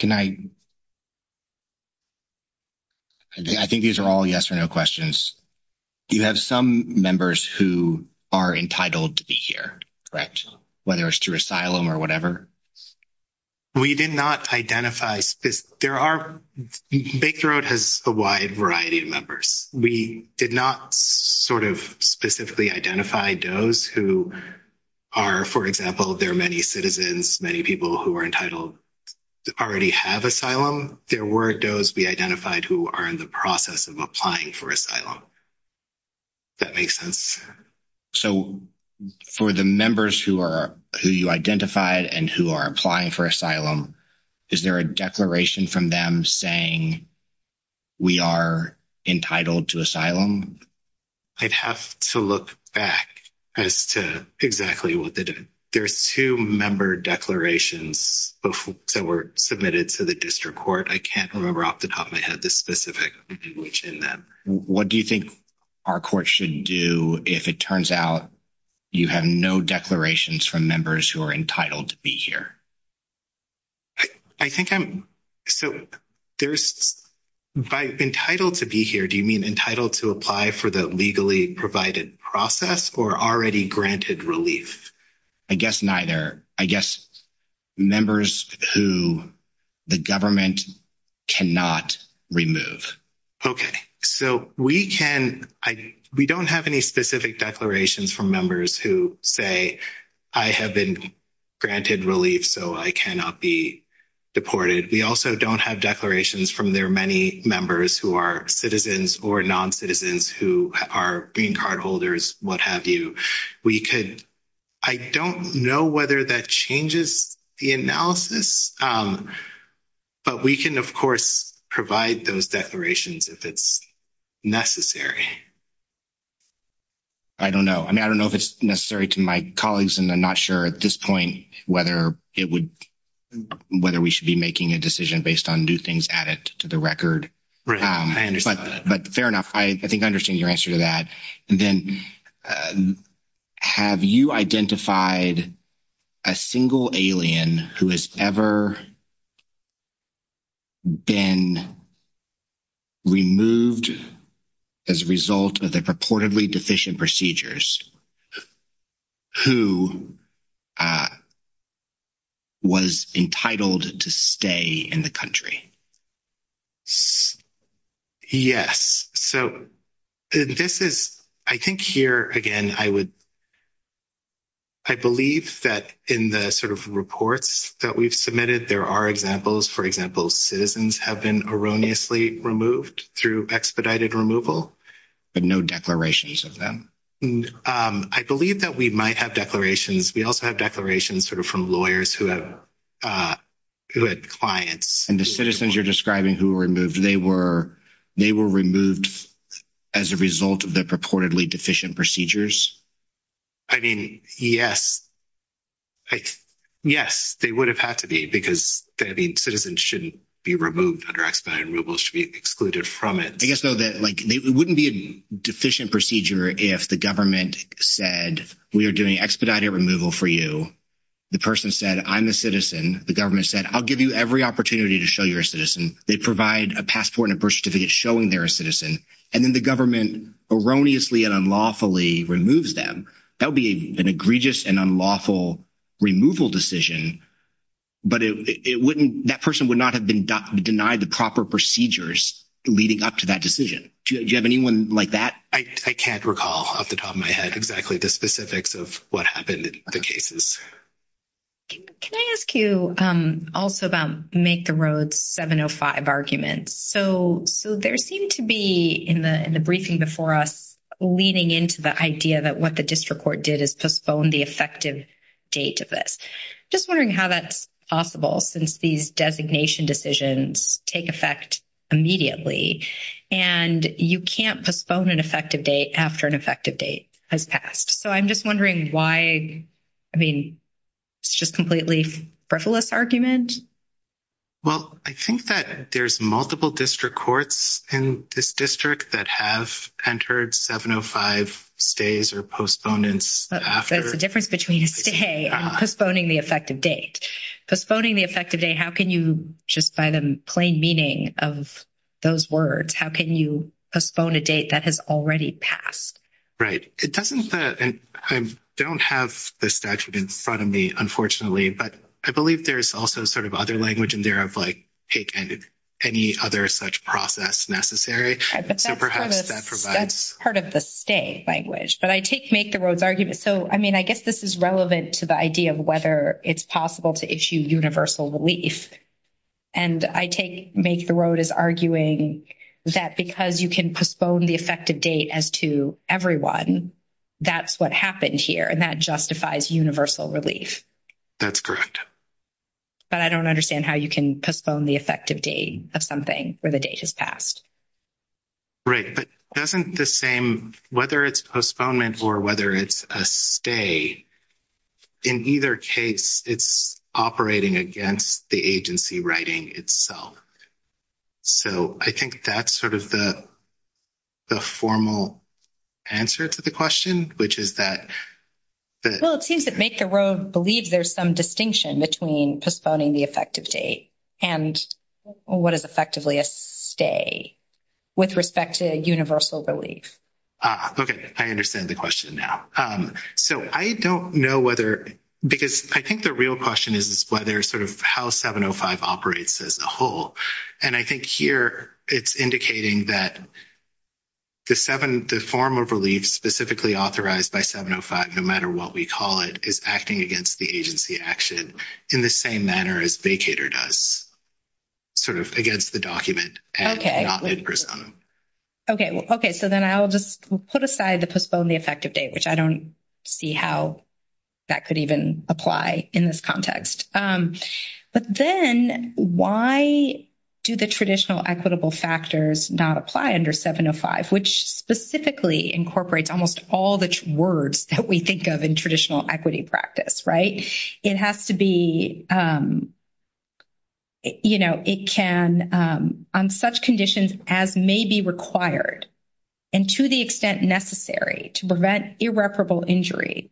Can I, I think these are all yes or no questions. Do you have some members who are entitled to be here, whether it's to asylum or whatever? We did not identify, there are, Baker Road has a wide variety of members. We did not sort of specifically identify those who are, for example, there are many citizens, many people who are entitled to already have asylum. There were those we identified who are in the process of applying for asylum. That makes sense. So for the members who are, who you identified and who are applying for asylum, is there a declaration from them saying we are entitled to asylum? I'd have to look back as to exactly what they did. There's two member declarations that were submitted to the district court. I can't remember off the top of my head the specifics in that. What do you think our court should do if it turns out you have no declarations from members who are entitled to be here? I think I'm, so there's, by entitled to be here, do you mean entitled to apply for the legally provided process or already granted relief? I guess neither. I guess members who the government cannot remove. Okay, so we can, we don't have any specific declarations from members who say I have been granted relief so I cannot be deported. We also don't have declarations from their many members who are citizens or non-citizens who are green card holders, what have you. We could, I don't know whether that changes the analysis, but we can of course provide those declarations if it's necessary. I don't know. I mean, I don't know if it's necessary to my colleagues and I'm not sure at this point whether it would, whether we should be making a decision based on new things added to the record. Right. But fair enough, I think I understand your answer to that. And then have you identified a single alien who has ever been removed as a result of the purportedly deficient procedures and who was entitled to stay in the country? Yes. So this is, I think here again I would, I believe that in the sort of reports that we've submitted there are examples, for example, citizens have been erroneously removed through expedited removal. But no declarations of them? I believe that we might have declarations. We also have declarations sort of from lawyers who have, who had clients. And the citizens you're describing who were removed, they were, they were removed as a result of the purportedly deficient procedures? I mean, yes. Like, yes, they would have had to be because, I mean, citizens shouldn't be removed under expedited removal, should be excluded from it. I guess though that like, it wouldn't be a deficient procedure if the government said, we are doing expedited removal for you. The person said, I'm a citizen. The government said, I'll give you every opportunity to show you're a citizen. They provide a passport and a birth certificate showing they're a citizen. And then the government erroneously and unlawfully removes them. That would be an egregious and unlawful removal decision. But it wouldn't, that person would not have been denied the proper procedures leading up to that decision. Do you have anyone like that? I can't recall off the top of my head exactly the specifics of what happened in the cases. Can I ask you also about Make the Road 705 arguments? So there seemed to be in the briefing before us, leading into the idea that what the district court did is postpone the effective date of this. Just wondering how that's possible since these designation decisions take effect immediately and you can't postpone an effective date after an effective date has passed. So I'm just wondering why, I mean, it's just completely frivolous argument. Well, I think that there's multiple district courts in this district that have entered 705 stays or postponements after. There's a difference between a stay and postponing the effective date. Postponing the effective date, how can you, just by the plain meaning of those words, how can you postpone a date that has already passed? Right. It doesn't, and I don't have the statute in front of me, unfortunately, but I believe there's also sort of other language in there of like taking any other such process necessary. That's part of the stay language. But I take Make the Road's argument. So, I mean, I guess this is relevant to the idea of whether it's possible to issue universal relief. And I take Make the Road as arguing that because you can postpone the effective date as to everyone, that's what happened here and that justifies universal relief. That's correct. But I don't understand how you can postpone the effective date of something where the date has passed. Right. But doesn't the same, whether it's postponement or whether it's a stay, in either case, it's operating against the agency writing itself. So, I think that's sort of the formal answer to the question, which is that... Well, it seems that Make the Road believes there's some distinction between postponing the effective date and what is effectively a stay with respect to universal relief. Okay. I understand the question now. So, I don't know whether because I think the real question is whether sort of how 705 operates as a whole. And I think here it's indicating that the form of relief specifically authorized by 705, no matter what we call it, is acting against the agency action in the same manner as vacator does, sort of against the document. Okay. Okay. Okay. So, then I'll just put aside the postpone the effective date, which I don't see how that could even apply in this context. But then why do the traditional equitable factors not apply under 705, which specifically incorporates almost all the words that we govern traditional equity practice, right? It has to be, you know, it can on such conditions as may be required and to the extent necessary to prevent irreparable injury,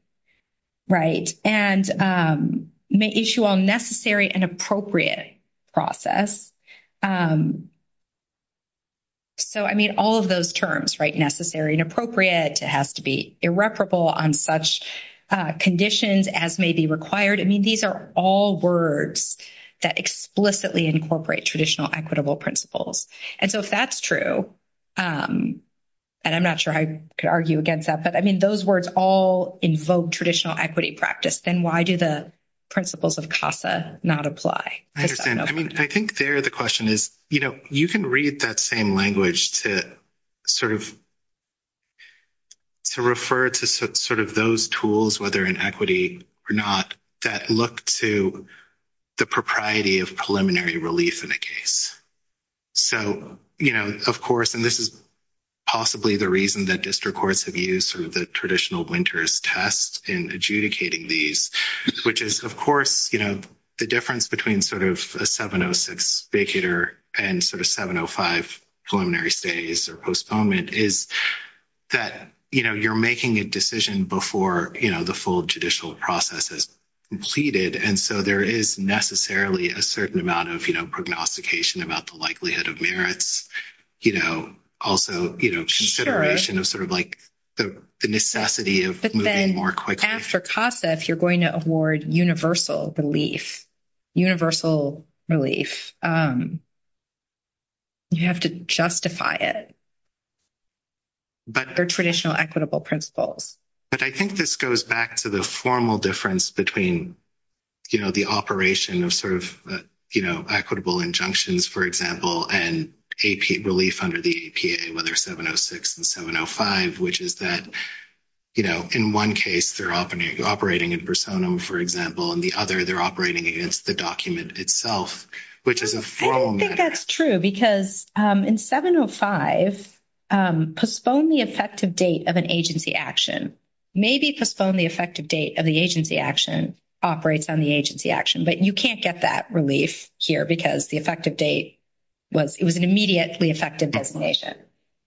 right? And may issue all necessary and appropriate process. So, I mean, all of those terms, right? Necessary and appropriate. It has to be irreparable on such conditions as may be required. I mean, these are all words that explicitly incorporate traditional equitable principles. And so, if that's true, and I'm not sure I could argue against that, but I mean, those words all invoke traditional equity practice. Then why do the principles of CASA not apply? I understand. I mean, I think there the question is, you know, you can read that same language to sort of refer to sort of those tools, whether in equity or not, that look to the propriety of preliminary release in a case. So, you know, of course, and this is possibly the reason that district courts have used sort of the traditional winters test in adjudicating these, which is, of course, you know, the difference between sort of a 706 speculator and sort of 705 preliminary stays or postponement is that, you know, you're making a decision before, you know, the full judicial process is completed. And so, there is necessarily a certain amount of, you know, prognostication about the likelihood of merits, you know, also, you know, consideration of sort of like the necessity of moving more quickly. But then after CASA, if you're going to award universal relief, universal relief, you have to justify it. But there are traditional equitable principles. But I think this goes back to the formal difference between, you know, the operation of sort of, you know, equitable injunctions, for example, and relief under the EPA, whether 706 and 705, which is that, you know, in one case, they're operating in personam, for example, and the other, they're operating against the document itself, which is a formal matter. I think that's true because in 705, postpone the effective date of an agency action. Maybe postpone the effective date of the agency action operates on the agency action, but you can't get that relief here because the effective date was an immediately effective designation.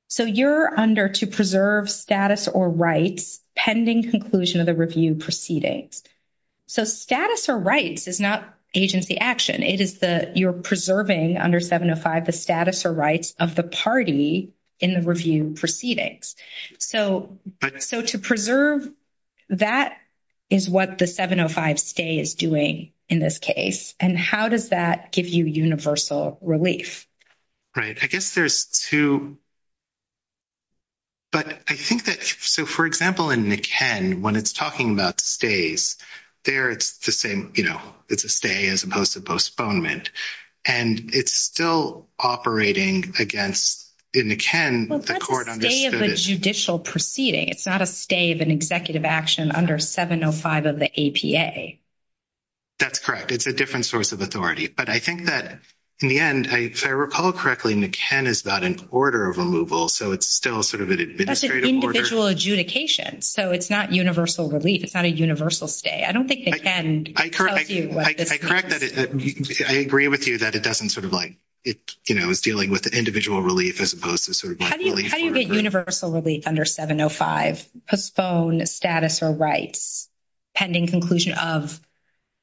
So, you're under to preserve status or rights pending conclusion of the review proceedings. So, status or rights is not agency action. It is the, you're preserving under 705, the status or rights of the party in the review proceedings. So, so to preserve, that is what the 705 stay is doing in this case. And how does that give you universal relief? Right. I guess there's two, but I think that, so for example, in the Ken, when it's talking about stays there, it's the same, you know, it's a stay as opposed to postponement and it's still operating against in the Ken, the court on the judicial proceeding, it's not a stay of an executive action under 705 of the APA. That's correct. It's a different source of authority, but I think that in the end, I recall correctly, the Ken is not an order of removal. So, it's still sort of an administrative order. That's an individual adjudication. So, it's not universal relief. It's not a universal stay. I don't think the Ken tells you. I correct that. I agree with you that it doesn't sort of like, it's, you know, it's dealing with the individual relief as opposed to sort of like. How do you get universal relief under 705? Postpone status or rights pending conclusion of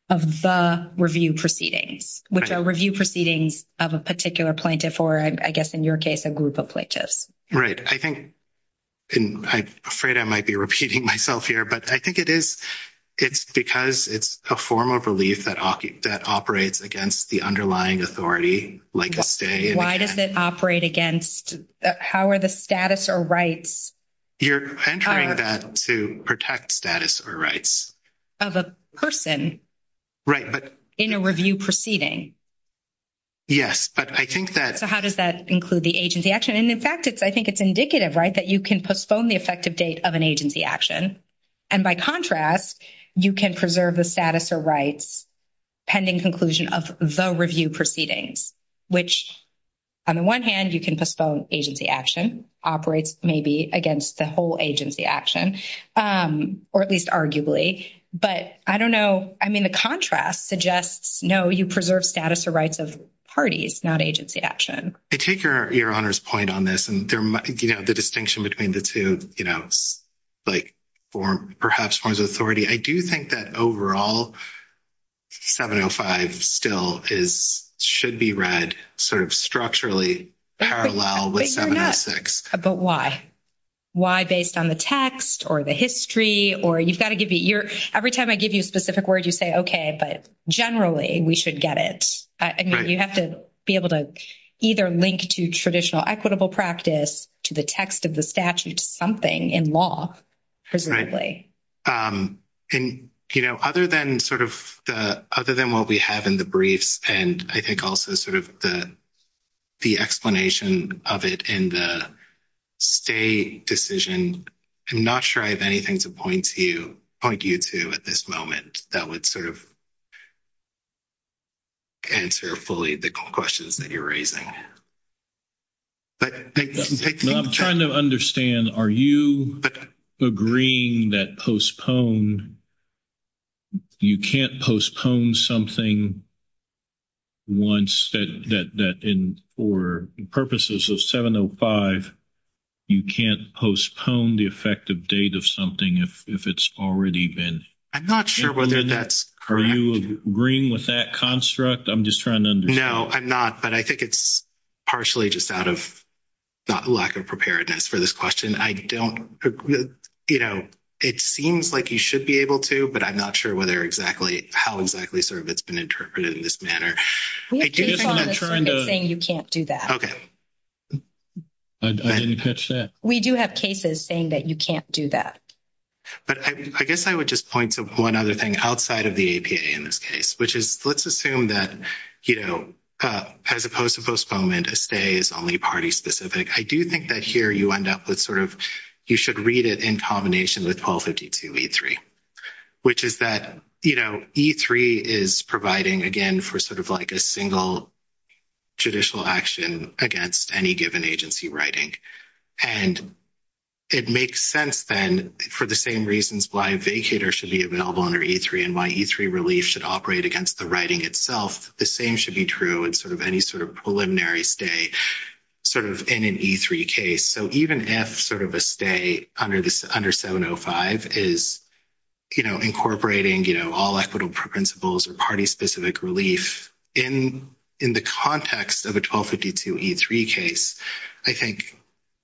the review proceeding, which are review proceedings of a particular plaintiff, or I guess in your case, a group of plaintiffs. Right. I think, and I'm afraid I might be repeating myself here, but I think it is, it's because it's a form of relief that operates against the underlying authority, like a stay. Why does it operate against, how are the status or rights? You're entering that to protect status or rights. Of a person. Right, but. In a review proceeding. Yes, but I think that. So, how does that include the agency action? And in fact, it's, I think it's indicative, right, that you can postpone the effective date of an agency action. And by contrast, you can preserve the status or rights pending conclusion of the review proceedings, which, on the one hand, you can postpone agency action, operates maybe against the whole agency action, or at least arguably. But I don't know, I mean, the contrast suggests, no, you preserve status or rights of parties, not agency action. I take your honor's point on this, and there might be the distinction between the two, like, or perhaps forms of authority. I do think that overall, 705 still should be read sort of structurally parallel with 706. But why? Why based on the text or the history, or you've got to give your, every time I give you a specific word, you say, okay, but generally we should get it. I mean, you have to be able to either link to traditional equitable practice to the text of the statute to something in law, presumably. Right. And, you know, other than sort of the, other than what we have in the briefs, and I think also sort of the explanation of it in the stay decision, I'm not sure I have anything to point to, point you to at this moment that would sort of answer fully the questions that you're raising. I'm trying to understand, are you agreeing that postpone, you can't postpone something once that, for purposes of 705, you can't postpone the effective date of something if it's already been implemented? I'm not sure whether that's correct. Are you agreeing with that construct? I'm just trying to understand. No, I'm not, but I think it's partially just out of lack of preparedness for this question. I don't, you know, it seems like you should be able to, but I'm not sure whether exactly, how exactly sort of it's been interpreted in this manner. We have cases saying you can't do that. Okay. I didn't catch that. We do have cases saying that you can't do that. But I guess I would just point to one other thing outside of the APA in this case, which let's assume that, you know, as opposed to postponement, a stay is only party specific. I do think that here you end up with sort of, you should read it in combination with 1252 E3, which is that, you know, E3 is providing, again, for sort of like a single judicial action against any given agency writing. And it makes sense then for the same reasons why a vacator should be available under E3 and why E3 relief should operate against the writing itself. The same should be true in sort of any sort of preliminary stay sort of in an E3 case. So even if sort of a stay under 705 is, you know, incorporating, you know, all equitable principles or party specific relief in the context of a 1252 E3 case, I think,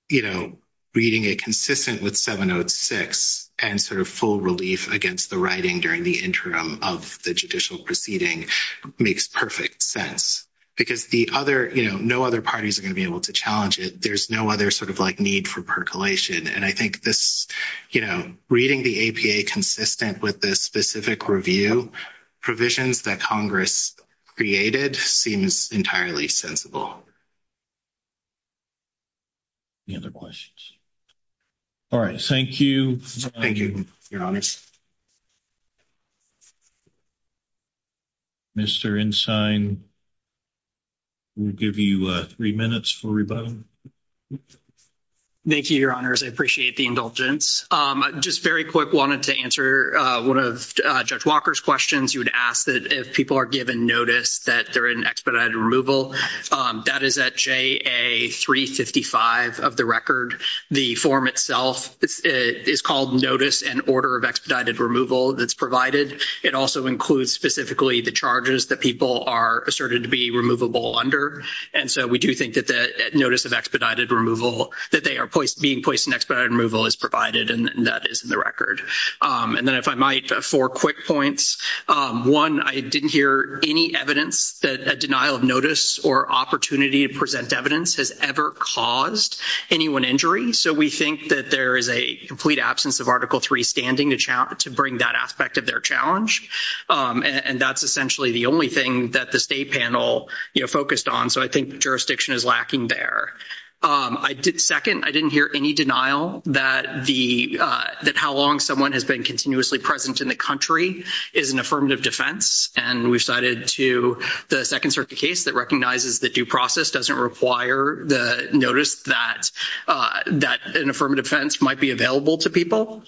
you know, reading it consistent with 706 and sort of full relief against the writing during the interim of the judicial proceeding makes perfect sense. Because the other, you know, no other parties are going to be able to challenge it. There's no other sort of like need for percolation. And I think this, you know, reading the APA consistent with this specific review, provisions that Congress created seems entirely sensible. Any other questions? All right. Thank you. Thank you, Your Honors. Mr. Ensign, we'll give you three minutes for rebuttal. Thank you, Your Honors. I appreciate the indulgence. I just very quick wanted to answer one of Judge Walker's questions. He would ask that if people are given notice that they're in expedited removal, that is at JA355 of the record. The form itself is called notice and order of expedited removal that's provided. It also includes specifically the charges that people are asserted to be removable under. And so we do think that the notice of expedited removal, that they are being placed in expedited removal is provided and that is in the record. And then if I might, four quick points. One, I didn't hear any evidence that a denial of notice or opportunity to present evidence has ever caused anyone injury. So we think that there is a complete absence of Article III standing to bring that aspect of their challenge. And that's essentially the only thing that the state panel, you know, focused on. So I think jurisdiction is lacking there. Second, I didn't hear any denial that how long someone has been continuously present in the country is an affirmative defense. And we've cited to the second circuit case that recognizes that due process doesn't require the notice that an affirmative defense might be available to people.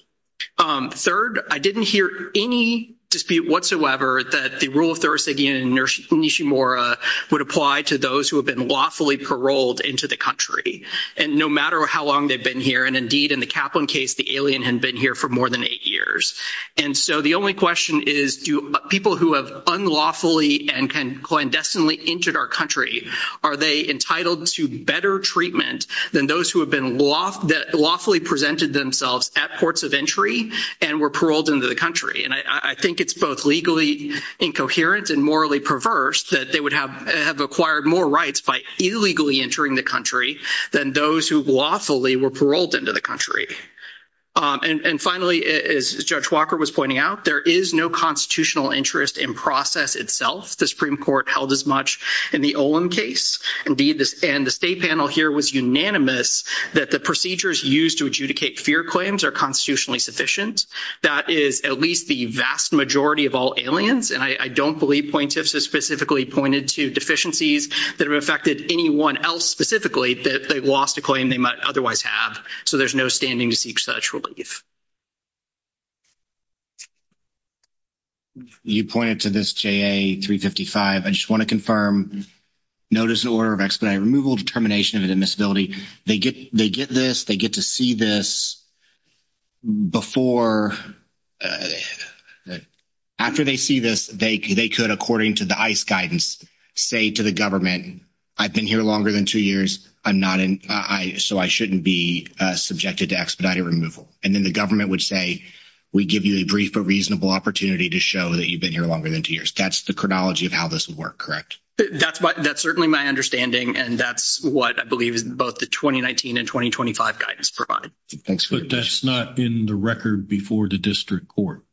Third, I didn't hear any dispute whatsoever that the rule of thoracity in Nishimura would apply to those who have been lawfully paroled into the country. And no matter how long they've been here, and indeed in the Kaplan case, the alien had been here for more than eight years. And so the only question is, do people who have unlawfully and can clandestinely entered our country, are they entitled to better treatment than those who have been lawfully presented themselves at ports of entry and were paroled into the country? And I think it's both legally incoherent and morally perverse that they would have acquired more rights by illegally entering the country than those who lawfully were paroled into the country. And finally, as Judge Walker was pointing out, there is no constitutional interest in process itself. The Supreme Court held as much in the Olin case. Indeed, and the state panel here was unanimous that the procedures used to adjudicate fear claims are constitutionally sufficient. That is at least the vast majority of all aliens. And I don't believe plaintiffs have specifically pointed to deficiencies that have affected anyone else specifically that they lost a claim they might otherwise have. So there's no standing to seek such relief. You pointed to this JA-355. I just want to confirm, notice the order of explanation, removal of determination of admissibility. They get this, they get to see this before, after they see this, they could, according to the ICE guidance, say to the government, I've been here longer than two years, so I shouldn't be subjected to expedited removal. And then the government would say, we give you a brief, a reasonable opportunity to show that you've been here longer than two years. That's the chronology of how this would work, correct? That's what, that's certainly my understanding. And that's what I believe is both the 2019 and 2025 guidance provided. Thanks for that. But that's not in the record before the district court.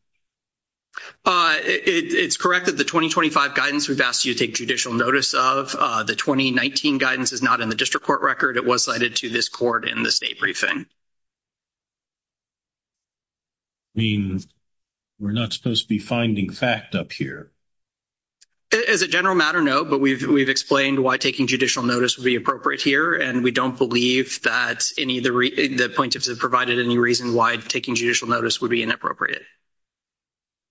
It's correct that the 2025 guidance we've asked you to take judicial notice of. The 2019 guidance is not in the district court record. It was cited to this court in the state briefing. I mean, we're not supposed to be finding fact up here. As a general matter, no. But we've explained why taking judicial notice would be appropriate here. And we don't believe that any of the plaintiffs have provided any reason why taking judicial notice would be inappropriate.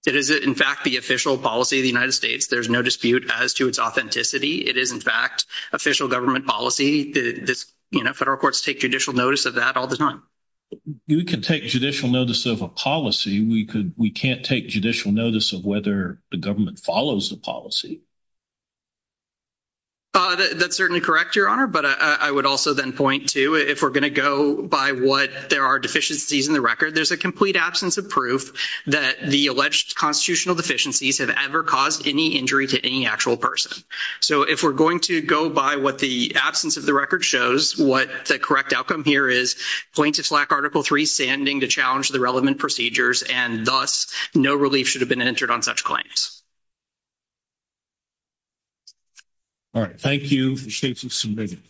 It is, in fact, the official policy of the United States. There's no dispute as to its authenticity. It is, in fact, official government policy. You know, federal courts take judicial notice of that all the time. You can take judicial notice of a policy. We can't take judicial notice of whether the government follows the policy. That's certainly correct, Your Honor. But I would also then point to, if we're going to go by what there are deficiencies in the record, there's a complete absence of proof that the alleged constitutional deficiencies have ever caused any injury to any actual person. So, if we're going to go by what the absence of the record shows, what the correct outcome here is, plaintiffs lack Article III standing to challenge the relevant procedures, and thus, no relief should have been entered on such claims. All right. Thank you. I appreciate you submitting.